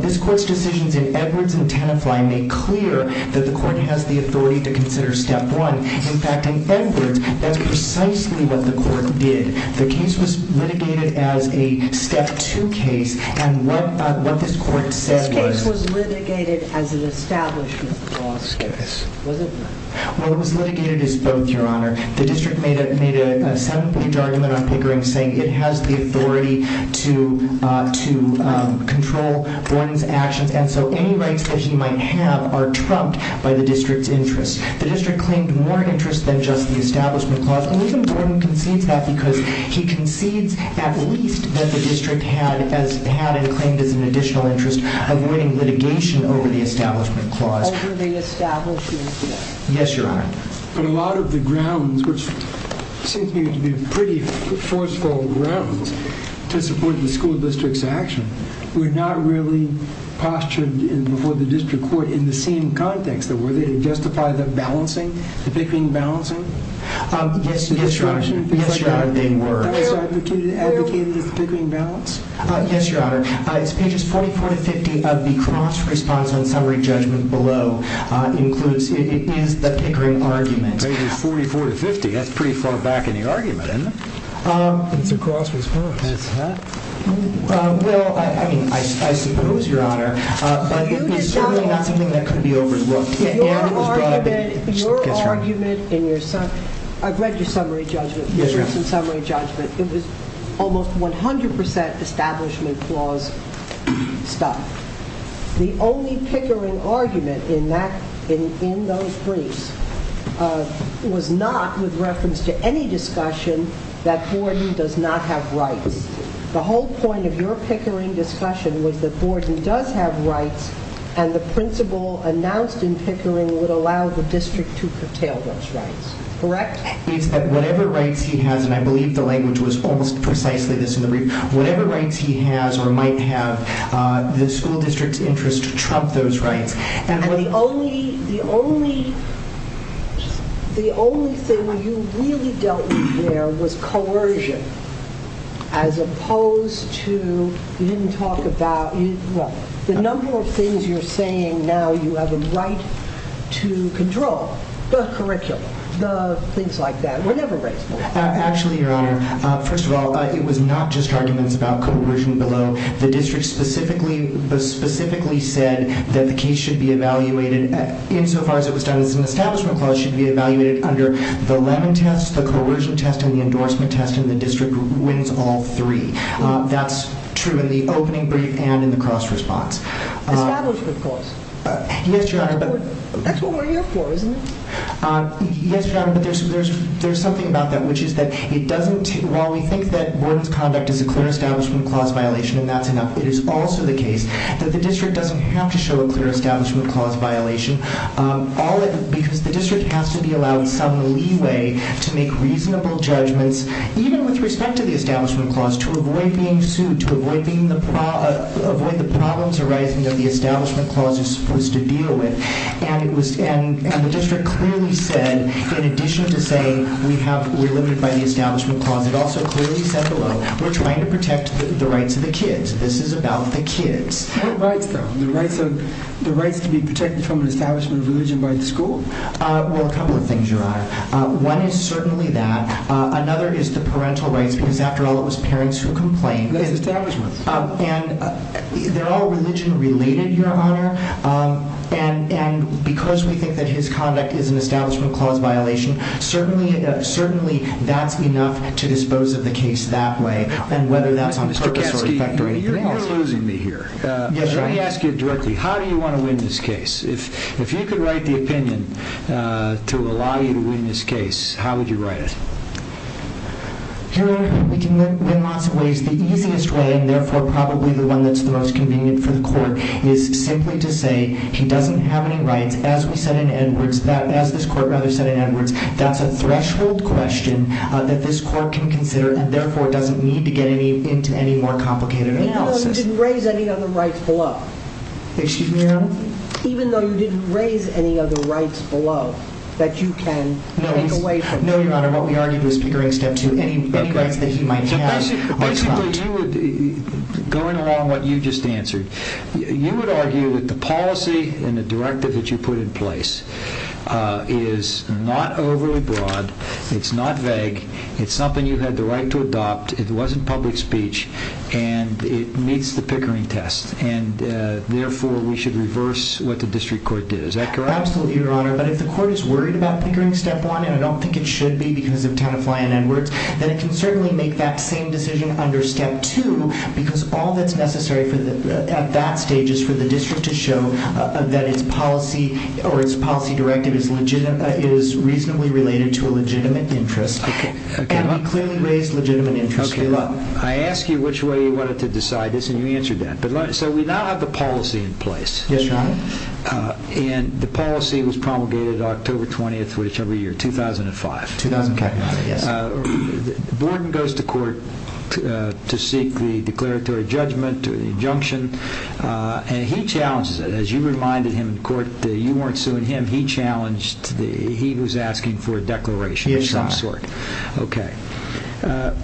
This court's decision did Edwards and Tanefly make clear that the court has the authority to consider Step 1. In fact, in Fenton, that's precisely what the court did. The case was litigated as a Step 2 case, and what this court said was... The case was litigated as an Establishment Clause case. Well, it was litigated as both, Your Honor. The district made a 7-page argument on Pickering saying it has the authority to control Borden's actions, and so any rights that he might have are trumped by the district's interests. The district claimed more interests than just the Establishment Clause, and even Borden conceded that because he conceded at least that the district had a claim to an additional interest, alluding litigation over the Establishment Clause. Over the Establishment Clause? Yes, Your Honor. But a lot of the grounds, which seem to me to be pretty forceful grounds to support the school district's actions, were not really postured before the district court in the same context. Were they to justify the balancing, the picking-balancing? Yes, Your Honor. Yes, Your Honor. They were. Advocating a picking balance? Yes, Your Honor. Page 44 to 50 of the cross-response on summary judgment below includes the Pickering argument. Page 44 to 50? That's pretty far back in the argument, isn't it? It's a cross-response. Well, I suppose, Your Honor. It's certainly not something that could be overlooked. Your argument in your summary judgment, I've read your summary judgment, it was almost 100% Establishment Clause stuff. The only Pickering argument in that, in those briefs, was not with reference to any discussion that Gordon does not have rights. The whole point of your Pickering discussion was that Gordon does have rights and the principle announced in Pickering would allow the district to curtail those rights. Correct? Whatever rights he has, and I believe the language was almost precisely this in the brief, whatever rights he has or might have, the school district's interest to trump those rights. And the only thing where you really dealt with there was coercion as opposed to, you didn't talk about, well, the number of things you're saying now you have a right to control. The correction, the things like that, whatever rights. Actually, Your Honor, first of all, it was not just arguments about coercion below. The district specifically said that the case should be evaluated insofar as it was done as an Establishment Clause should be evaluated under the Lemon Test, the Coercion Test, and the Endorsement Test, and the district wins all three. That's true in the opening brief and in the cross-response. Establishment Clause. Yes, Your Honor. That's what we're here for, isn't it? Yes, Your Honor, but there's something about that, which is that it doesn't, while we think that Warden's conduct is a clear Establishment Clause violation and that's enough, it is also the case that the district doesn't have to show a clear Establishment Clause violation because the district has to be allowed some leeway to make reasonable judgments, even with respect to the Establishment Clause, to avoid being sued, to avoid the problems arising that the Establishment Clause is supposed to deal with. And the district clearly said, in addition to saying we're limited by the Establishment Clause, it also clearly said below, we're trying to protect the rights of the kids. This is about the kids. What rights, though? The rights to be protected from the establishment of leeway by the school? Well, a couple of things, Your Honor. One is certainly that. Another is the parental rights because, after all, it was parents who complained. And they're all religion-related, Your Honor, and because we think that his conduct is an Establishment Clause violation, certainly that's enough to dispose of the case that way. And whether that's on purpose or effect, it's not. You're losing me here. Let me ask you directly. How do you want to win this case? If you could write the opinion to allow you to win this case, how would you write it? Your Honor, we can win it in lots of ways. The easiest way, and therefore probably the one that's the most convenient for the court, is simply to say she doesn't have any rights. As we said in Edwards, as this court rather said in Edwards, that's a threshold question that this court can consider and therefore doesn't need to get into any more complicated analysis. Even though you didn't raise any other rights below? Excuse me, Your Honor? No, Your Honor. What we argued was pickering steps with any right that he might have. Going along what you just answered, you would argue that the policy and the directive that you put in place is not overly broad, it's not vague, it's something you had the right to adopt, it wasn't public speech, and it meets the pickering test, and therefore we should reverse what the district court did. Is that correct? Absolutely, Your Honor. But if the court is worried about pickering step one, and I don't think it should be because of kind of flying Edwards, then it can certainly make that same decision under step two because all that's necessary at that stage is for the district to show that its policy or its policy directive is reasonably related to a legitimate interest. Okay. And we clearly raised legitimate interest. Okay. Well, I asked you which way you wanted to decide this and you answered that. So we now have the policy in place. Yes, Your Honor. And the policy was promulgated October 20th, which every year, 2005. 2005, yes. Borden goes to court to seek the declaratory judgment, the injunction, and he challenges it. As you reminded him in court that you weren't suing him, he challenged he who's asking for a declaration of some sort. Yes, Your Honor. Okay.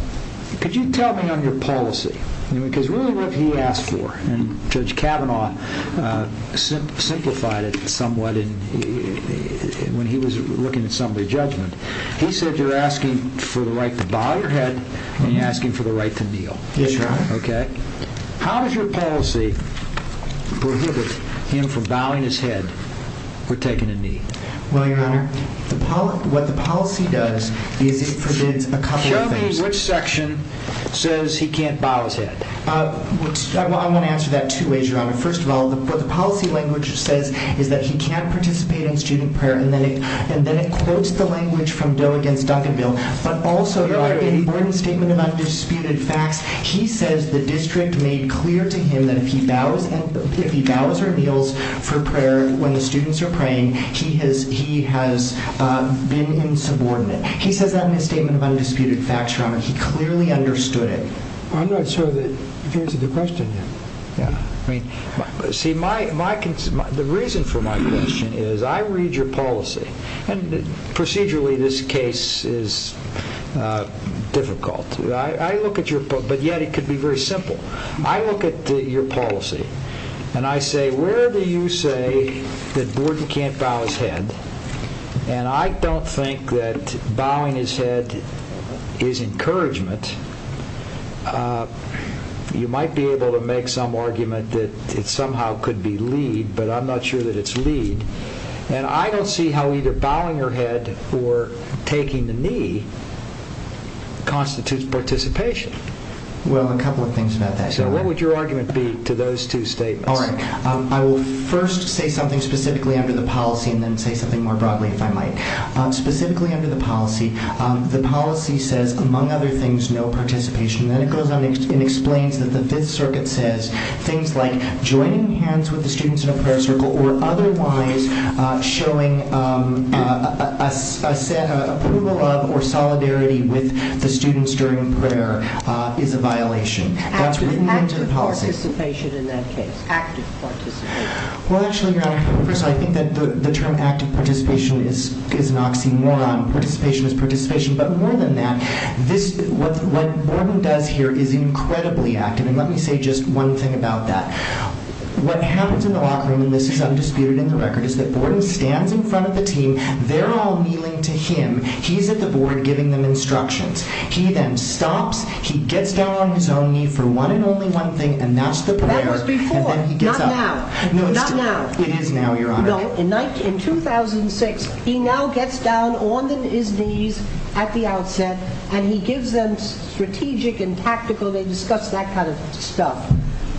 Could you tell me on your policy? Because really what he asked for, and Judge Kavanaugh simplified it somewhat when he was looking at some of the judgment. He said you're asking for the right to bow your head and you're asking for the right to kneel. Yes, Your Honor. Okay. How does your policy prohibit him from bowing his head or taking a knee? Well, Your Honor, what the policy does is it presents a couple of things. Show me which section says he can't bow his head. I want to answer that, too, as Your Honor. First of all, what the policy language says is that he can't participate in student prayer, and then it quotes the language from Bill against Duck and Bill. But also, in Borden's statement of undisputed facts, he says the district made clear to him that if he bows or kneels for prayer when the students are praying, he has been insubordinate. He says that in his statement of undisputed facts, Your Honor. He clearly understood it. I'm going to assume that you answered the question, then. Yeah. See, the reason for my question is I read your policy, and procedurally this case is difficult. But yet it could be very simple. I look at your policy and I say, where do you say that Borden can't bow his head? And I don't think that bowing his head is encouragement. You might be able to make some argument that it somehow could be lead, but I'm not sure that it's lead. And I don't see how either bowing your head or taking the knee constitutes participation. Well, a couple of things about that. What would your argument be to those two statements? All right. I will first say something specifically under the policy and then say something more broadly, if I might. Specifically under the policy, the policy says, among other things, no participation. Then it goes on and explains that the Fifth Circuit says things like joining hands with the students in a prayer circle or otherwise showing approval of or solidarity with the students during prayer is a violation. Active participation in that case. Active participation. Well, actually, I think that the term active participation is an oxymoron. Participation is participation. But more than that, what Borden does here is incredibly active. And let me say just one thing about that. What happens in the locker room, and this is undisputed in the record, is that Borden stands in front of the team. They're all kneeling to him. He's at the board giving them instructions. He then stops. He gets down on his own knee for one and only one thing, and that's the prayer. That was before. Not now. Not now. It is now, Your Honor. In 2006, he now gets down on his knees at the outset, and he gives them strategic and tactical. They discuss that kind of stuff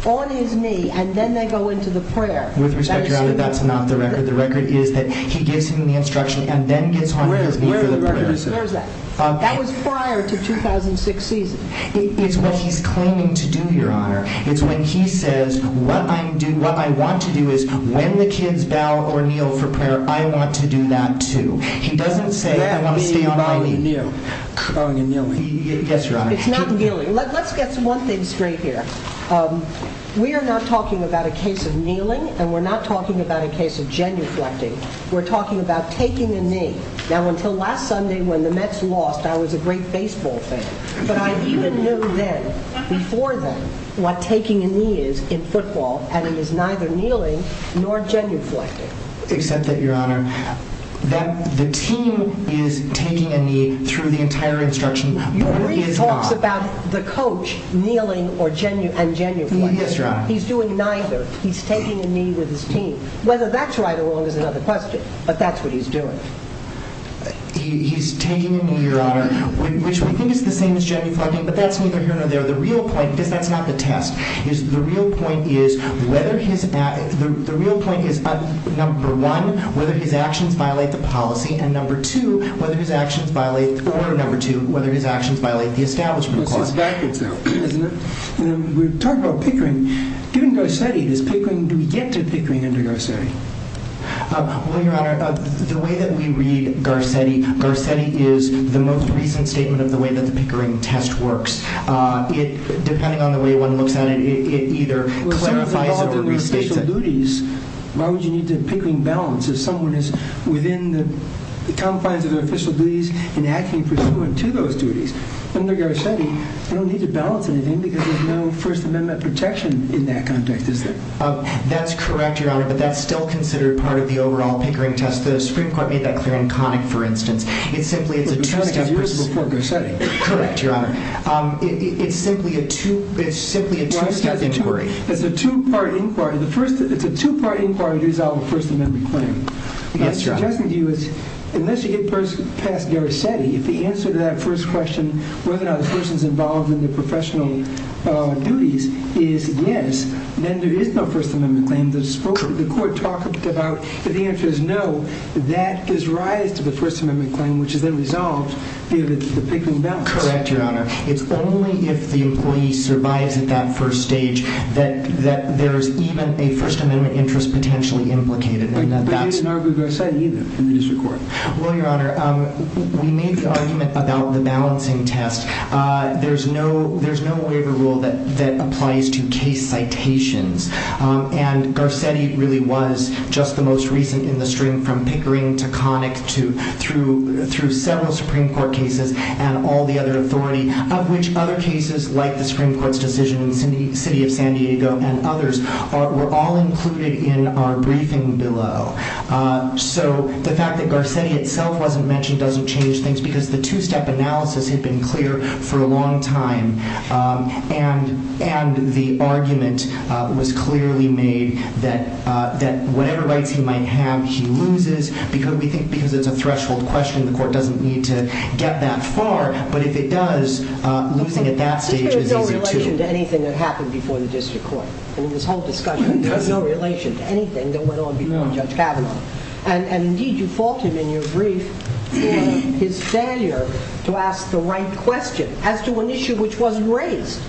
on his knee, and then they go into the prayer. With respect, Your Honor, that's not the record. The record is that he gives them the instruction and then gets on his knees for the prayer. Where is that? That was prior to 2016. It's what he's claiming to do, Your Honor. It's when he says, what I want to do is when the kids bow or kneel for prayer, I want to do that too. He doesn't say, I want to see you bow and kneel. Bow and kneel. Yes, Your Honor. It's not kneeling. Let's get to one thing straight here. We are not talking about a case of kneeling, and we're not talking about a case of genuflecting. We're talking about taking a knee. Now, until last Sunday when the Mets lost, that was a great baseball thing. But I even knew then, before then, what taking a knee is in football, and it is neither kneeling nor genuflecting. Except that, Your Honor, the team is taking a knee through the entire instruction. He talks about the coach kneeling and genuflecting. He's doing neither. He's taking a knee with his team. Whether that's right or wrong is another question. But that's what he's doing. He's taking a knee, Your Honor, which we can do the same as genuflecting, but that's neither here nor there. The real point, but that's not the test. The real point is whether he's at, the real point is number one, whether his actions violate the policy, and number two, whether his actions violate, or number two, whether his actions violate the establishment clause. Exactly so. We talked about pickering. Given Garcetti, does pickering, do we get to pickering under Garcetti? Well, Your Honor, the way that we read Garcetti, Garcetti is the most recent statement of the way that the pickering test works. Depending on the way one looks at it, it either clarifies or restates it. Well, if there's all the official duties, why would you need the pickering balance? If someone is within the confines of official duties and acting pursuant to those duties, under Garcetti, you don't need to balance anything because there's no First Amendment protection in that context, is there? That's correct, Your Honor, but that's still considered part of the overall pickering test. The Supreme Court made that clear in Connick, for instance. It's a two-part inquiry. It's a two-part inquiry to resolve a First Amendment claim. Unless you get past Garcetti, if the answer to that first question, whether or not the person is involved in the professional duties, is yes, then there is no First Amendment claim. The Court talked about the answer is no. That does rise to the First Amendment claim, which is then resolved if it's the pickering balance. Correct, Your Honor. It's only if the employee survives at that first stage that there's even a First Amendment interest potentially implicated. But there's no Garcetti from the district court. No, Your Honor. We made the argument about the balancing test. There's no waiver rule that applies to case citations. And Garcetti really was just the most recent in the stream from pickering to Connick through several Supreme Court cases and all the other authority, of which other cases like the Supreme Court's decision in the city of San Diego and others were all included in our briefing below. So the fact that Garcetti itself wasn't mentioned doesn't change things because the two-step analysis had been clear for a long time. And the argument was clearly made that whatever rights he might have, he loses. We think because it's a threshold question, the Court doesn't need to get that far. But if it does, looking at that stage is over, too. This has no relation to anything that happened before the district court in this whole discussion. There's no relation to anything that went on beyond Judge Kavanaugh. And, indeed, you faulted him in your brief in his failure to ask the right question as to an issue which wasn't raised.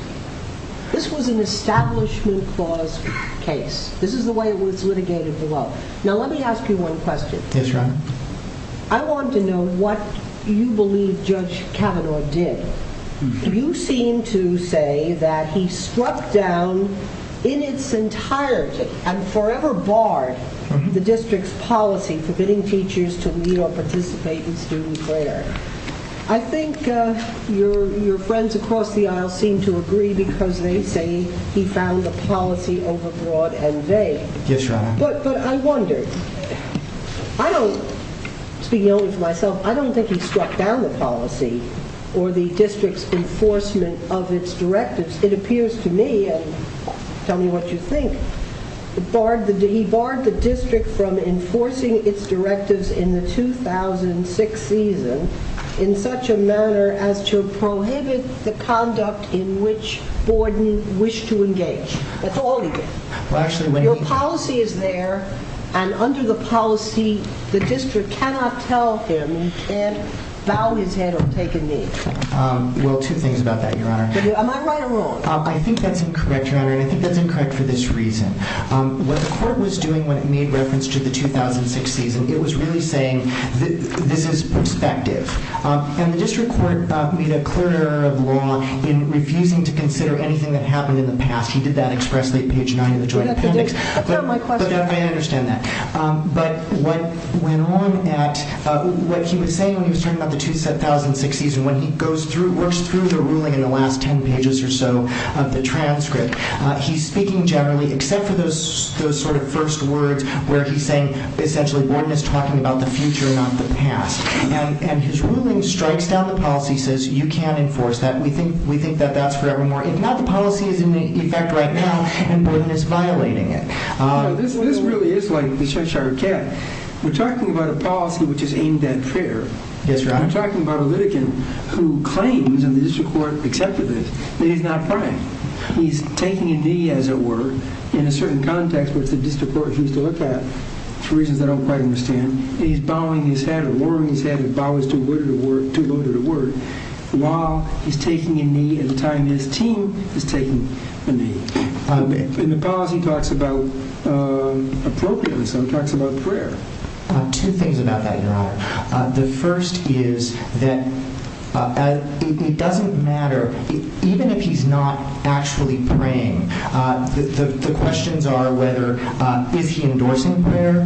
This was an establishment clause case. This is the way it was litigated below. Now, let me ask you one question. Yes, Your Honor. I want to know what you believe Judge Kavanaugh did. You seem to say that he swept down in its entirety and forever barred the district's policy, forbidding teachers to meet or participate in student fairs. I think your friends across the aisle seem to agree because they say he found the policy overbroad and vague. Yes, Your Honor. But I wonder. I don't think he swept down the policy or the district's enforcement of its directives. It appears to me, and tell me what you think, he barred the district from enforcing its directives in the 2006 season in such a manner as to prohibit the conduct in which board members wish to engage. That's all he did. Your policy is there, and under the policy, the district cannot tell him and bow his head and take a knee. Well, two things about that, Your Honor. Am I right or wrong? I think that's incorrect, Your Honor, and I think that's incorrect for this reason. When the court was doing what you made reference to in the 2006 season, it was really saying, this is perspective. And the district court met a court of law in refusing to consider anything that happened in the past. He did that expressly in page 9 of the Jordan appendix. But I understand that. But what went on at what he was saying when he was talking about the 2006 season, when he goes through to a ruling in the last 10 pages or so of the transcript, he's speaking generally except for those sort of first words where he's saying essentially board members talking about the future, not the past. And his ruling strikes down the policy, says you can't enforce that. We think that that's fair and more. If not, the policy is in effect right now, and the ruling is violating it. This really is like the cheshire cat. We're talking about a policy which is aimed at fair. We're talking about a litigant who claims, and the district court accepted this, that he's not lying. He's taking a knee as it were in a certain context with the district court. He's looked at for reasons I don't quite understand. He's bowing his head or lowering his head. He's bowing to a word of the word. The law is taking a knee at a time when his team is taking a knee. In the cause, he talks about appropriateness, so he talks about prayer. Two things about that, John. The first is that it doesn't matter, even if he's not actually praying, the questions are whether is he endorsing prayer?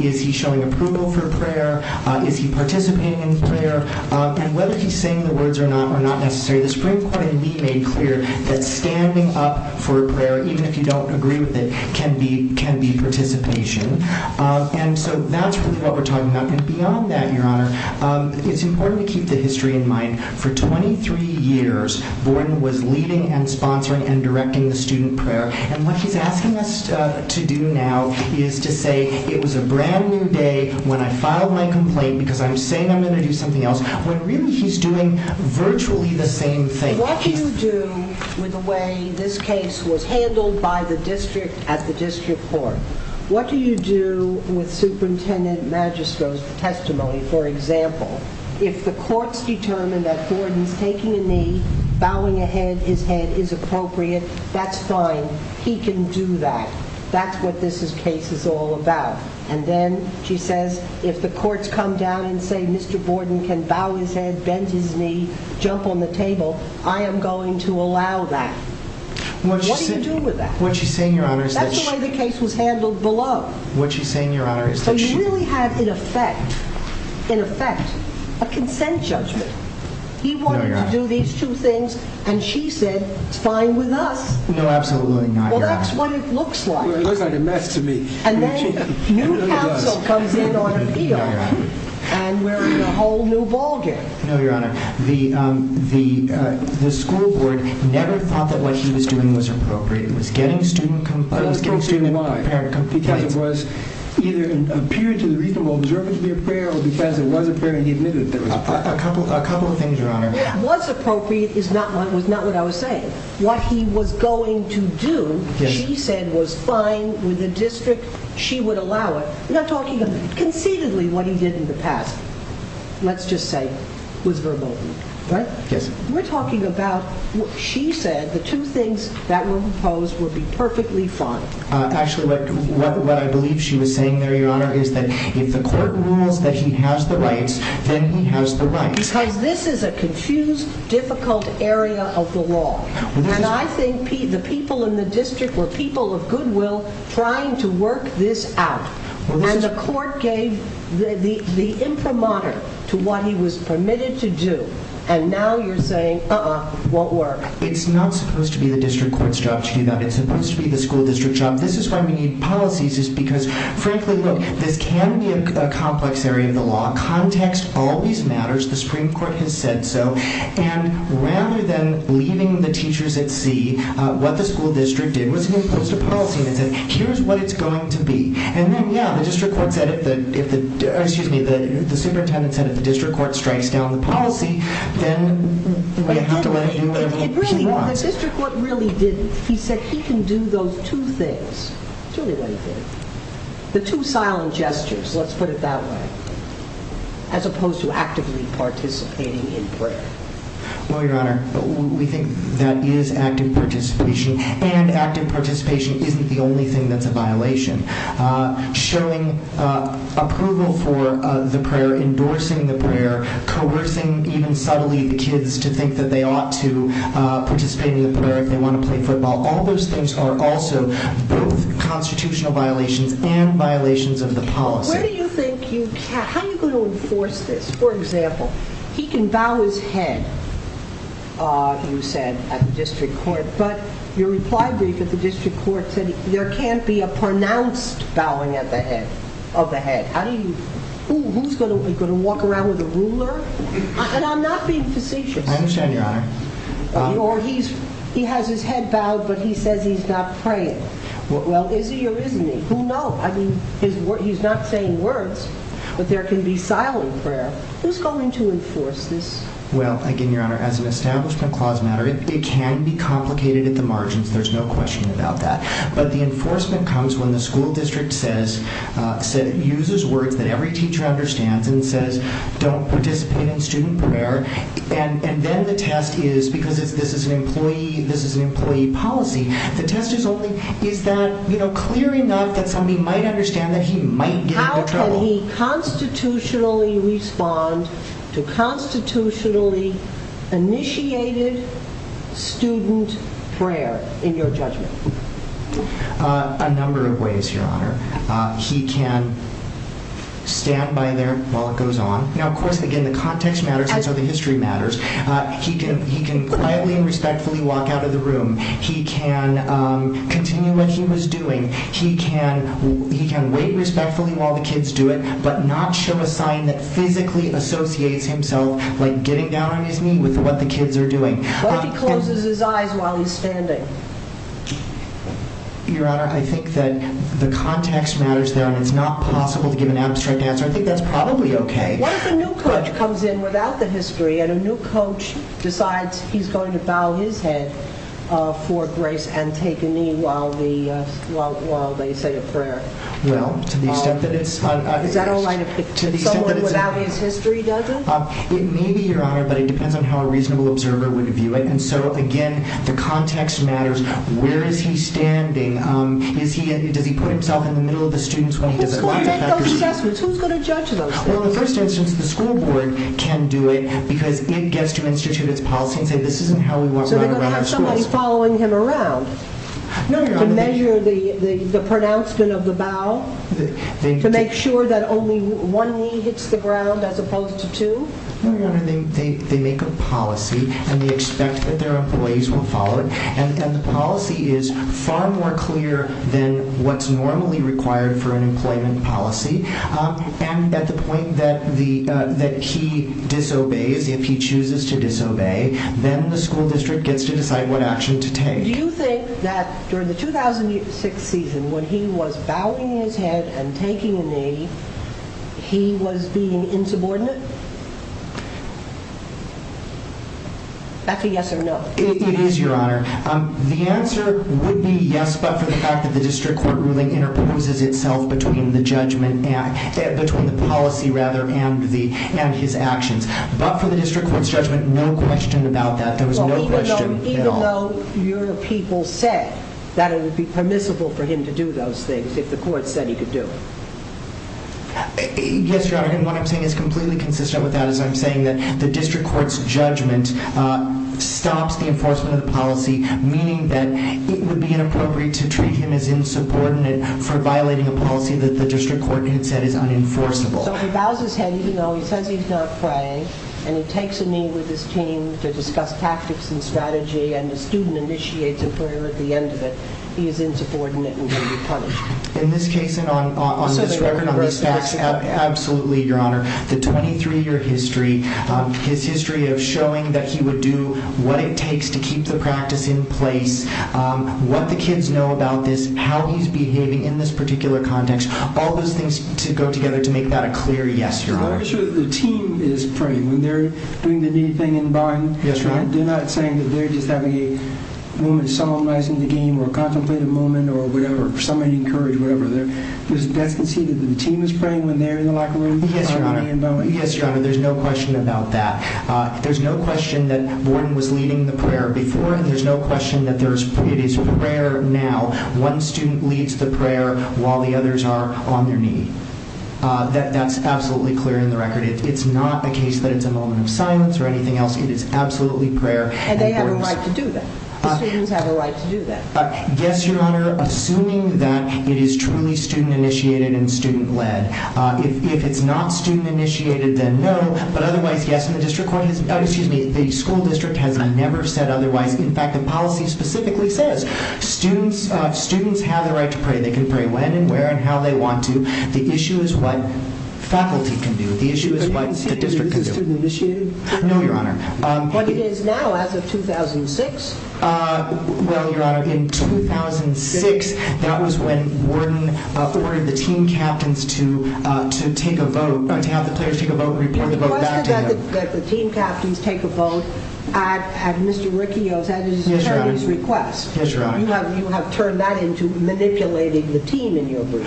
Is he showing approval for prayer? Is he participating in prayer? And whether he's saying the words or not are not necessary. The Supreme Court indeed made clear that standing up for prayer, even if you don't agree with it, can be participation. And so that's what we're talking about. And beyond that, Your Honor, it's important to keep the history in mind. For 23 years, Borden was leading and sponsoring and directing the student prayer. And what he's asking us to do now is to say it was a brand-new day when I filed my complaint because I'm saying I'm going to do something else, when really he's doing virtually the same thing. What do you do with the way this case was handled by the district at the district court? What do you do with Superintendent Magistro's testimony? For example, if the courts determine that Borden's taking a knee, bowing his head is appropriate, that's fine. He can do that. That's what this case is all about. And then she says, if the courts come down and say Mr. Borden can bow his head, bend his knee, jump on the table, I am going to allow that. What do you do with that? That's the way the case was handled below. So you really have, in effect, a consent judgment. He wanted to do these two things, and she said, fine with us. Well, that's what it looks like. It looks like a mess to me. And then a new counsel comes in on the field. And we're on a whole new ballgame. No, Your Honor. The school board never thought that what she was doing was appropriate. It was gang-stealing. It was gang-stealing. It was gang-stealing, why? Because it was either a period to the reasonable observance of your prayer or because of one prayer and he admitted it. A couple of things, Your Honor. What's appropriate is not what I was saying. What he was going to do, she said, was fine with the district. She would allow it. We're not talking conceitedly what he did in the past. Let's just say it was verbal. We're talking about what she said, the two things that were proposed would be perfectly fine. Actually, what I believe she was saying there, Your Honor, is that if the court rules that he has the rights, then he has the rights. Because this is a confused, difficult area of the law. And I think the people in the district were people of goodwill trying to work this out. And the court gave the imprimatur to what he was permitted to do. And now you're saying, uh-uh, won't work. It's not supposed to be the district court's job to do that. It's supposed to be the school district's job. This is why we need policies is because, frankly, look, this can be a complex area of the law. Context always matters. The Supreme Court has said so. And rather than leaving the teachers at sea, what the school district did was impose a policy that said, here's what it's going to be. And then, yeah, the district court said if the superintendent and the district court strikes down the policy, then he might have to let you do more. Really, the district court really did this. He said he can do those two things. Show me what he did. The two silent gestures, let's put it that way, as opposed to actively participating in prayer. Well, Your Honor, we think that is active participation. And active participation isn't the only thing that's a violation. Showing approval for the prayer, endorsing the prayer, coercing even subtly the kids to think that they ought to participate in the prayer if they want to play football, all those things are also constitutional violations and violations of the policy. What do you think you have? How are you going to enforce this? For example, he can bow his head, you said, at the district court. But your reply to the district court said there can't be a pronounced bowing of the head. Who's going to walk around with a ruler? And I'm not being facetious. I understand, Your Honor. Or he has his head bowed, but he says he's not praying. Well, is he or isn't he? Who knows? I mean, he's not saying words, but there can be silent prayer. Who's going to enforce this? Well, again, Your Honor, as an establishment clause matter, it can be complicated at the margins. There's no question about that. But the enforcement comes when the school district uses words that every teacher understands and says, don't participate in student prayer. And then the test is, because this is an employee policy, the test is only is that, you know, clear enough that somebody might understand that he might get into trouble. How can he constitutionally respond to constitutionally initiated student prayer in your judgment? A number of ways, Your Honor. He can stand by there while it goes on. Now, of course, again, the context matters, and so the history matters. He can quietly and respectfully walk out of the room. He can continue what he was doing. He can wave respectfully while the kids do it, but not show a sign that physically associates himself, like, getting down on his knee with what the kids are doing. Or he closes his eyes while he's standing. Your Honor, I think that the context matters, though, and it's not possible to give an abstract answer. I think that's probably okay. What if a new coach comes in without the history, and a new coach decides he's going to bow his head for grace and take a knee while they say a prayer? Well, to be sensitive. Is that all right if someone without the history does it? Maybe, Your Honor, but it depends on how a reasonable observer would view it. And so, again, the context matters. Where is he standing? Does he put himself in the middle of the students when he does that? Who's going to make those judgments? Who's going to judge them? Well, in the first instance, the school board can do it, because it gets to institute its policy and say, this isn't how we work right around at school. So they have somebody following him around to measure the pronouncement of the bow, to make sure that only one knee hits the ground as opposed to two? No, Your Honor, they make a policy, and we expect that their employees will follow it. And the policy is far more clear than what's normally required for an employment policy. And at the point that he disobeys, if he chooses to disobey, then the school district gets to decide what action to take. Do you think that for the 2006 season, when he was bowing his head and taking a knee, he was being insubordinate? That's a yes or no. It is, Your Honor. The answer would be yes, but for the fact that the district court ruling interposes itself between the judgment and between the policy, rather, and his actions. But for the district court's judgment, no question about that. There was no question at all. Even though your people said that it would be permissible for him to do those things if the court said he could do it? Yes, Your Honor, and what I'm saying is completely consistent with that. I'm saying that the district court's judgment stops the enforcement of policy, meaning that it would be inappropriate to treat him as insubordinate for violating a policy that the district court had said is unenforceable. So if he bows his head, even though he certainly is not praying, and he takes a knee with his team to discuss tactics and strategy, and the student initiates a prayer at the end of it, he is insubordinate and can be punished. In this case and on this record, absolutely, Your Honor. The 23-year history, his history of showing that he would do what it takes to keep the practice in place, what the kids know about this, how he's behaving in this particular context, all those things go together to make that a clear yes, Your Honor. The team is praying. When they're doing the knee thing in the bottom, they're not saying that they're just having a moment of solemnize in the game or a contemplative moment or whatever. Somebody encouraged whatever. Does the team is praying when they're in the locker room? Yes, Your Honor. There's no question about that. There's no question that Gordon was leading the prayer before, and there's no question that it is prayer now. One student leads the prayer while the others are on their knees. That's absolutely clear in the record. It's not a case that it's a moment of silence or anything else. It is absolutely prayer. And they have a right to do that. The students have a right to do that. Yes, Your Honor, assuming that it is truly student-initiated and student-led. If it's not student-initiated, then no, but otherwise, yes, the school district has never said otherwise. In fact, the policy specifically says students have the right to pray. They can pray when and where and how they want to. The issue is what faculty can do. The issue is what the district can do. Is it student-initiated? No, Your Honor. But it is now as of 2006. Well, Your Honor, in 2006, that was when Gordon ordered the team captains to take a vote. The team captains take a vote at Mr. Riccioselli's request. Yes, Your Honor. You have turned that into manipulating the team in your group.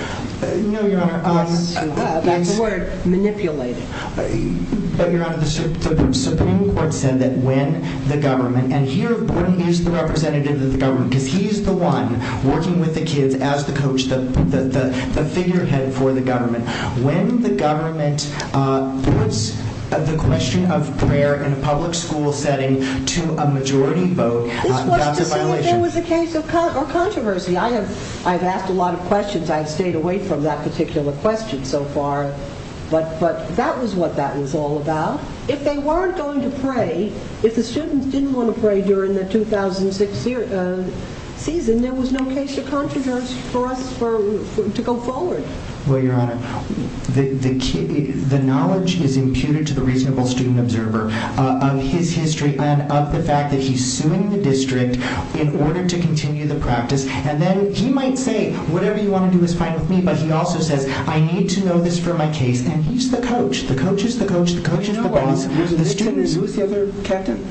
No, Your Honor. That's the word, manipulating. But, Your Honor, the Supreme Court said that when the government, and here Gordon is the representative of the government because he's the one working with the kids as the coach, the figurehead for the government. When the government puts the question of prayer in a public school setting to a majority vote, that's a violation. That was a case of controversy. I've asked a lot of questions. I've stayed away from that particular question so far. But that was what that was all about. If they weren't going to pray, if the students didn't want to pray during the 2006 season, there was no case of controversy to go forward. Well, Your Honor, the knowledge is imputed to the reasonable student observer of his history and of the fact that he's suing the district in order to continue the practice. And then he might say, whatever you want to do is fine with me, but he also says, I need to know this for my case. And he's the coach. The coach is the coach. The coach is the boss. The student is the other captain.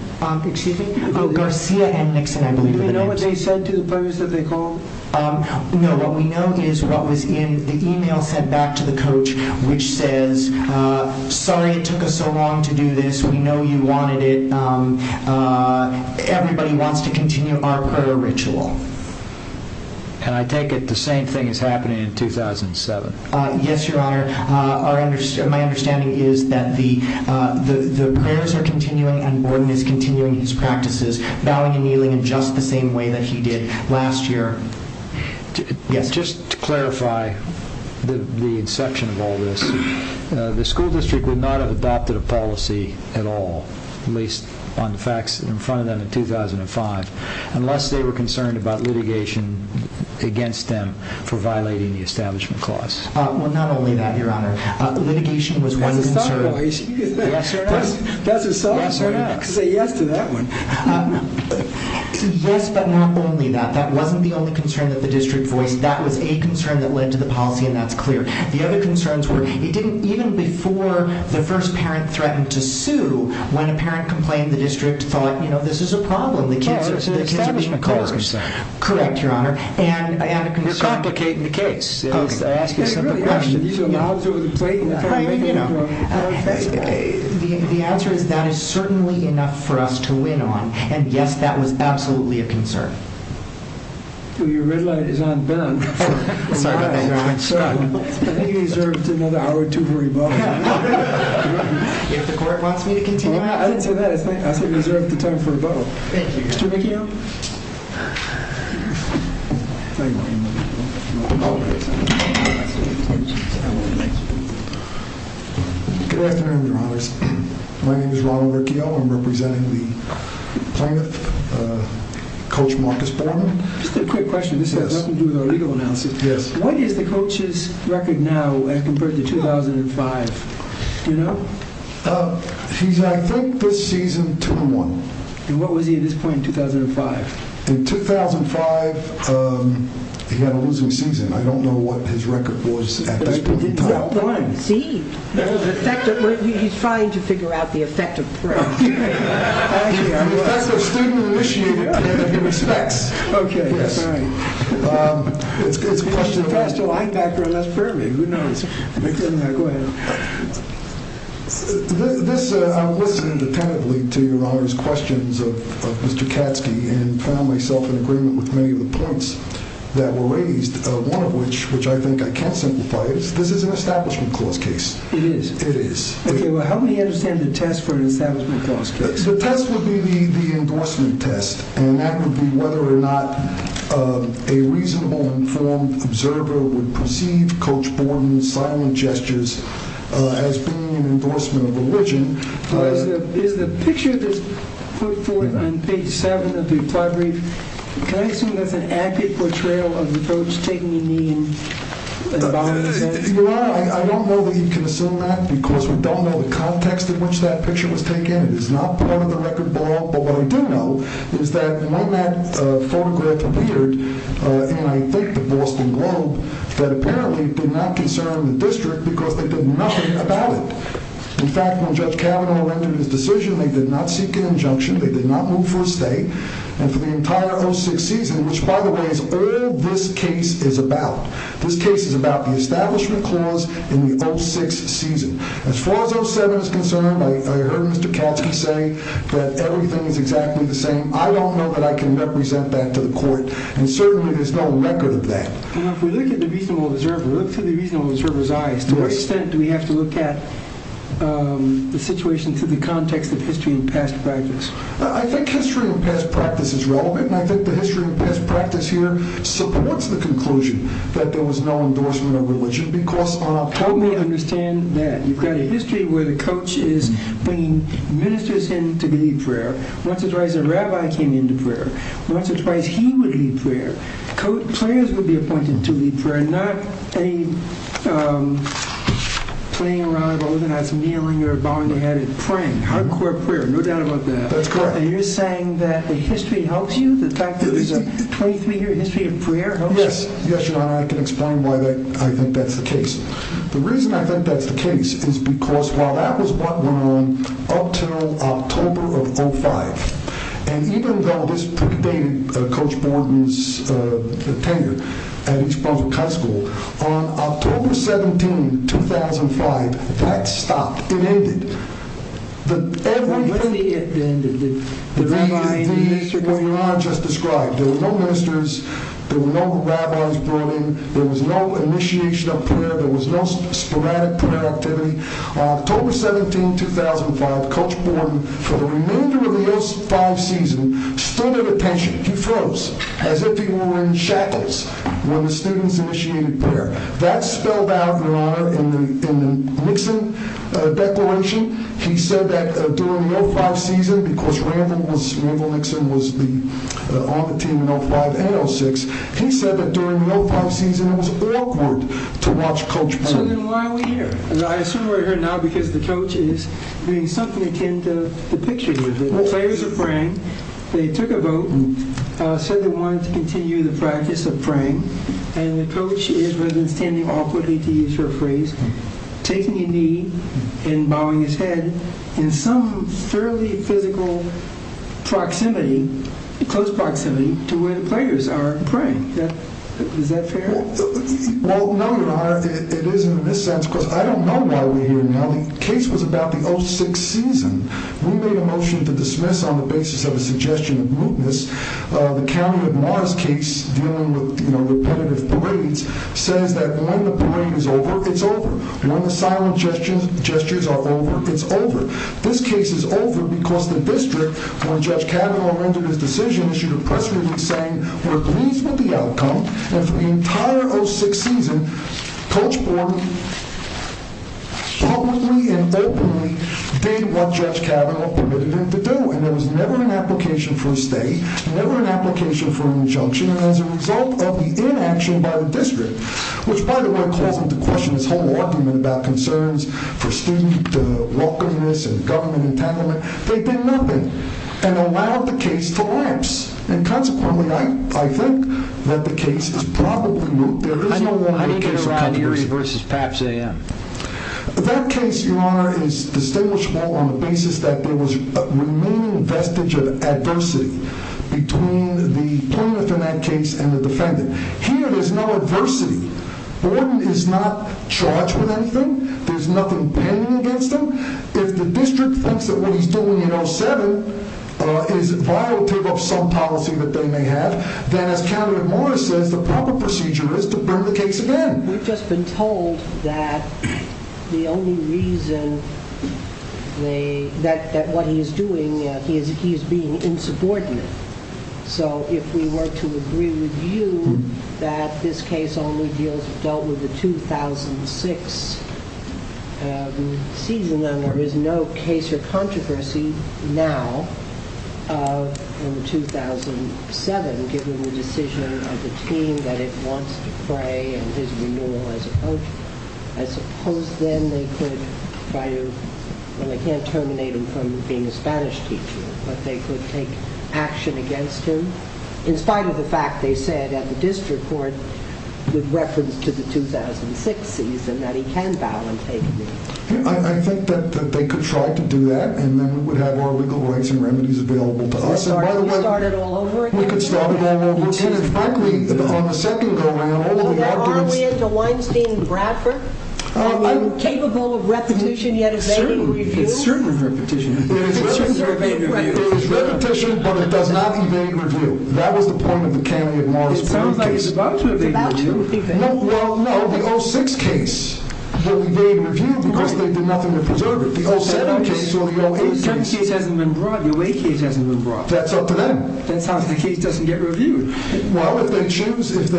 Excuse me. Garcia and Nixon, I believe. Do you know what they said to the players that they called? No. What we know is what was in the e-mail sent back to the coach, which says, sorry it took us so long to do this. We know you wanted it. Everybody wants to continue our prayer ritual. And I take it the same thing is happening in 2007. Yes, Your Honor. and Borden is continuing his practices, in just the same way that he did last year. Just to clarify the exception of all this, the school district would not have adopted a policy at all, at least on the facts in front of them in 2005, unless they were concerned about litigation against them for violating the establishment clause. Well, not only that, Your Honor. Yes, Your Honor. That's a yes to that one. Yes, but not only that. That wasn't the only concern that the district voiced. That was a concern that led to the policy, and that's clear. The other concerns were, even before the first parent threatened to sue, when a parent complained, the district thought, you know, this is a problem. The kids are being cursed. Correct, Your Honor. And it can complicate the case. Okay. The answer is that is certainly enough for us to win on, and yes, that was absolutely a concern. Well, your red light is on Ben. I think he deserves another hour or two for rebuttal. The court wants me to continue? I didn't say that. I said he deserves the time for rebuttal. Thank you. Thank you. Thank you. Good afternoon, Your Honor. My name is Oliver Kiel. I'm representing the plaintiff, Coach Marcus Foreman. Just a quick question. This has nothing to do with our legal analysis test. What is the coach's record now as compared to 2005? You know? He's, I think, this season 2-1. And what was he at this point in 2005? In 2005, he had a losing season. I don't know what his record was at this point in time. Well, I see. He's trying to figure out the effect of crime. Actually, I'm glad the student initiated it. Okay. Yes. All right. It's a good question. I still hang back for the last period. Who knows? Go ahead. This wasn't a tentative lead to your Honor's questions of Mr. Katsky, and I found myself in agreement with many of the points that were raised. One of which, which I think I can't simplify, is this is an establishment cause case. It is. It is. Okay. Well, how do we understand the test for an establishment cause case? The test would be the endorsement test, and that would be whether or not a reasonable, informed observer would perceive Coach Foreman's violent gestures as being an endorsement of religion. The picture that's put forth on page 7 of the applied brief, can I assume that's an accurate portrayal of the folks taking the means? Your Honor, I don't know that you can assume that because we don't know the context in which that picture was taken. It is not part of the record below. But what we do know is that when that photograph appeared, and I think the Boston Globe, that apparently did not concern the district because they did nothing about it. In fact, when Judge Kavanaugh rendered his decision, they did not seek an injunction. They did not move for a stay. And for the entire 06 season, which, by the way, is all this case is about. This case is about the establishment clause in the 06 season. As far as 07 is concerned, I heard Mr. Katz say that everything is exactly the same. I don't know that I can represent that to the court, and certainly there's no record of that. Now, if we look at the reasonable observer, look through the reasonable observer's eyes. To what extent do we have to look at the situation through the context of history and past fragments? I think history and past practice is relevant. I think the history and past practice here supports the conclusion that there was no endorsement of religion because I don't fully understand that. You've got a history where the coach is bringing ministers in to lead prayer. Once or twice, a rabbi came into prayer. Once or twice, he would lead prayer. Prayers would be appointed to lead prayer, not a playing around of organized kneeling or bowing their head and praying. Hardcore prayer, no doubt about that. That's correct. Are you saying that the history helps you? The fact that there's a 23-year history of prayer helps you? Yes. Yes, Your Honor. I can explain why I think that's the case. The reason I think that's the case is because while that was what went on up until October of 05, and even though this predated Coach Borden's tenure as a public high school, on October 17, 2005, that stopped. It ended. When did it end? The legalities that Your Honor just described. There were no ministers. There were no rabbis brought in. There was no initiation of prayer. There was no schematic prayer activity. On October 17, 2005, Coach Borden, for the remainder of the O5 season, stood at attention to keep close, as if he were in shackles, when the students initiated prayer. That spelled out, Your Honor, in the Nixon declaration. He said that during the O5 season, because Randall Nixon was on the team in 05 and 06, he said that during the O5 season, it was awkward to watch Coach Borden. So then why are we here? I assume we're here now because the coach is doing something that can depict you a little bit. Let's say it was a prank. They took a vote and said they wanted to continue the practice of praying, and the coach was intending, awkwardly to use her phrase, taking a knee and bowing his head in some fairly physical proximity, close proximity, to where the players are praying. Is that fair? Well, no, Your Honor, it isn't in this sense, because I don't know why we're here now. The case was about the 06 season. We made a motion to dismiss, on the basis of a suggestion of movements, the county of Morris case dealing with repetitive parades, says that when the parade is over, it's over. When the silent gestures are over, it's over. This case is over because the district, when Judge Kavanaugh rendered his decision, issued a press release saying, we're pleased with the outcome, and for the entire 06 season, Coach Borden publicly and openly did what Judge Kavanaugh permitted him to do. And there was never an application for a stay, never an application for an injunction, as a result of the inaction by the district, which, by the way, calls into question this whole argument about concerns for student welcomeness and government entanglement. They did nothing, and allowed the case to lapse. And consequently, I think that the case is probably, there is no longer a case like this. That case, Your Honor, is distinguishable on the basis that there was a remaining vestige of adversity between the plaintiff in that case and the defendant. Here, there's no adversity. Borden is not charged with anything. There's nothing pending against him. If the district thinks that what he's doing in 07 is violating some policy that they may have, then as candidate Morris says, the proper procedure is to burn the case again. We've just been told that the only reason that what he's doing is he's being insubordinate. So if we were to agree with you that this case only deals with the 2006 season, then there is no case of controversy now in 2007, given the decision of the team that it wants to play and his renewal, I suppose. Then they could try to, and they can't terminate him from being a Spanish teacher, but they could take action against him, in spite of the fact, they said, at the district court, with reference to the 2006 season, that he can violently take the case. I think that they could try to do that, and then we would have our legal rights and remedies available to us. I'm sorry, you started all over again. We could start all over again, and frankly, on the second go around, all we have to do is... Are we capable of repetition yet of any review? Certainly. Certainly repetition. It is repetition, but it does not evade review. That was the point of the Kennedy and Morris case. It's about to evade review. It's about to evade review. Well, no. The 2006 case will evade review because they did nothing to preserve it. The 2007 case, well, the 2008 case hasn't been brought. The 2008 case hasn't been brought. That's up to them. That's how the case doesn't get reviewed. Well, if they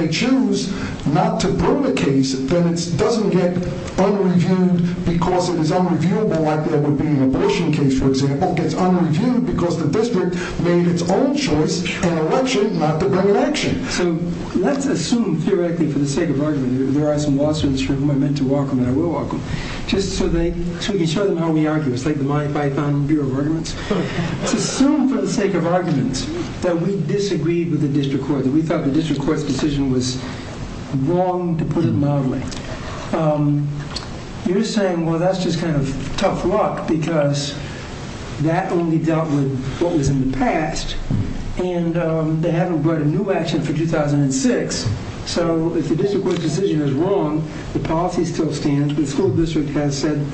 choose not to burn the case, then it doesn't get unreviewed because it was unreviewable like it would be in a motion case, for example. It gets unreviewed because the district made its own choice and elected not to run an election. So let's assume, theoretically, for the sake of argument, there are some lawsuits for whom I meant to argue and I will argue, just so we can show them how we argue. It's like the modified Founding Bureau of Arguments. Let's assume for the sake of argument that we disagreed with the district court, that we thought the district court's decision was wrong, to put it mildly. You're saying, well, that's just kind of tough luck because that only dealt with what was in the past and they haven't brought a new action for 2006. So if the district court's decision is wrong, the policy still stands. The school district has said,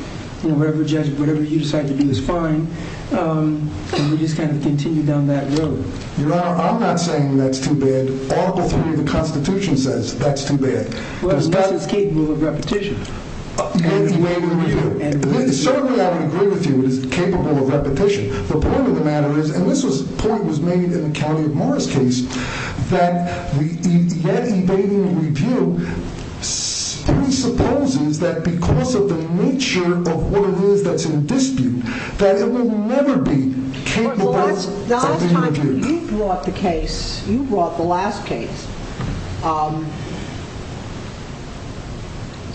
you know, whatever you decide to do is fine and we just kind of continue down that road. I'm not saying that's too bad. The Constitution says that's too bad. Well, it's not that it's capable of repetition. It is capable of repetition. Certainly, I would agree with you, it's capable of repetition. The point of the matter is, and this point was made in the Calumny-Morris case, that the evading review presupposes that because of the nature of what it is that's in dispute, that it will never be capable of being reviewed. You brought the case, you brought the last case.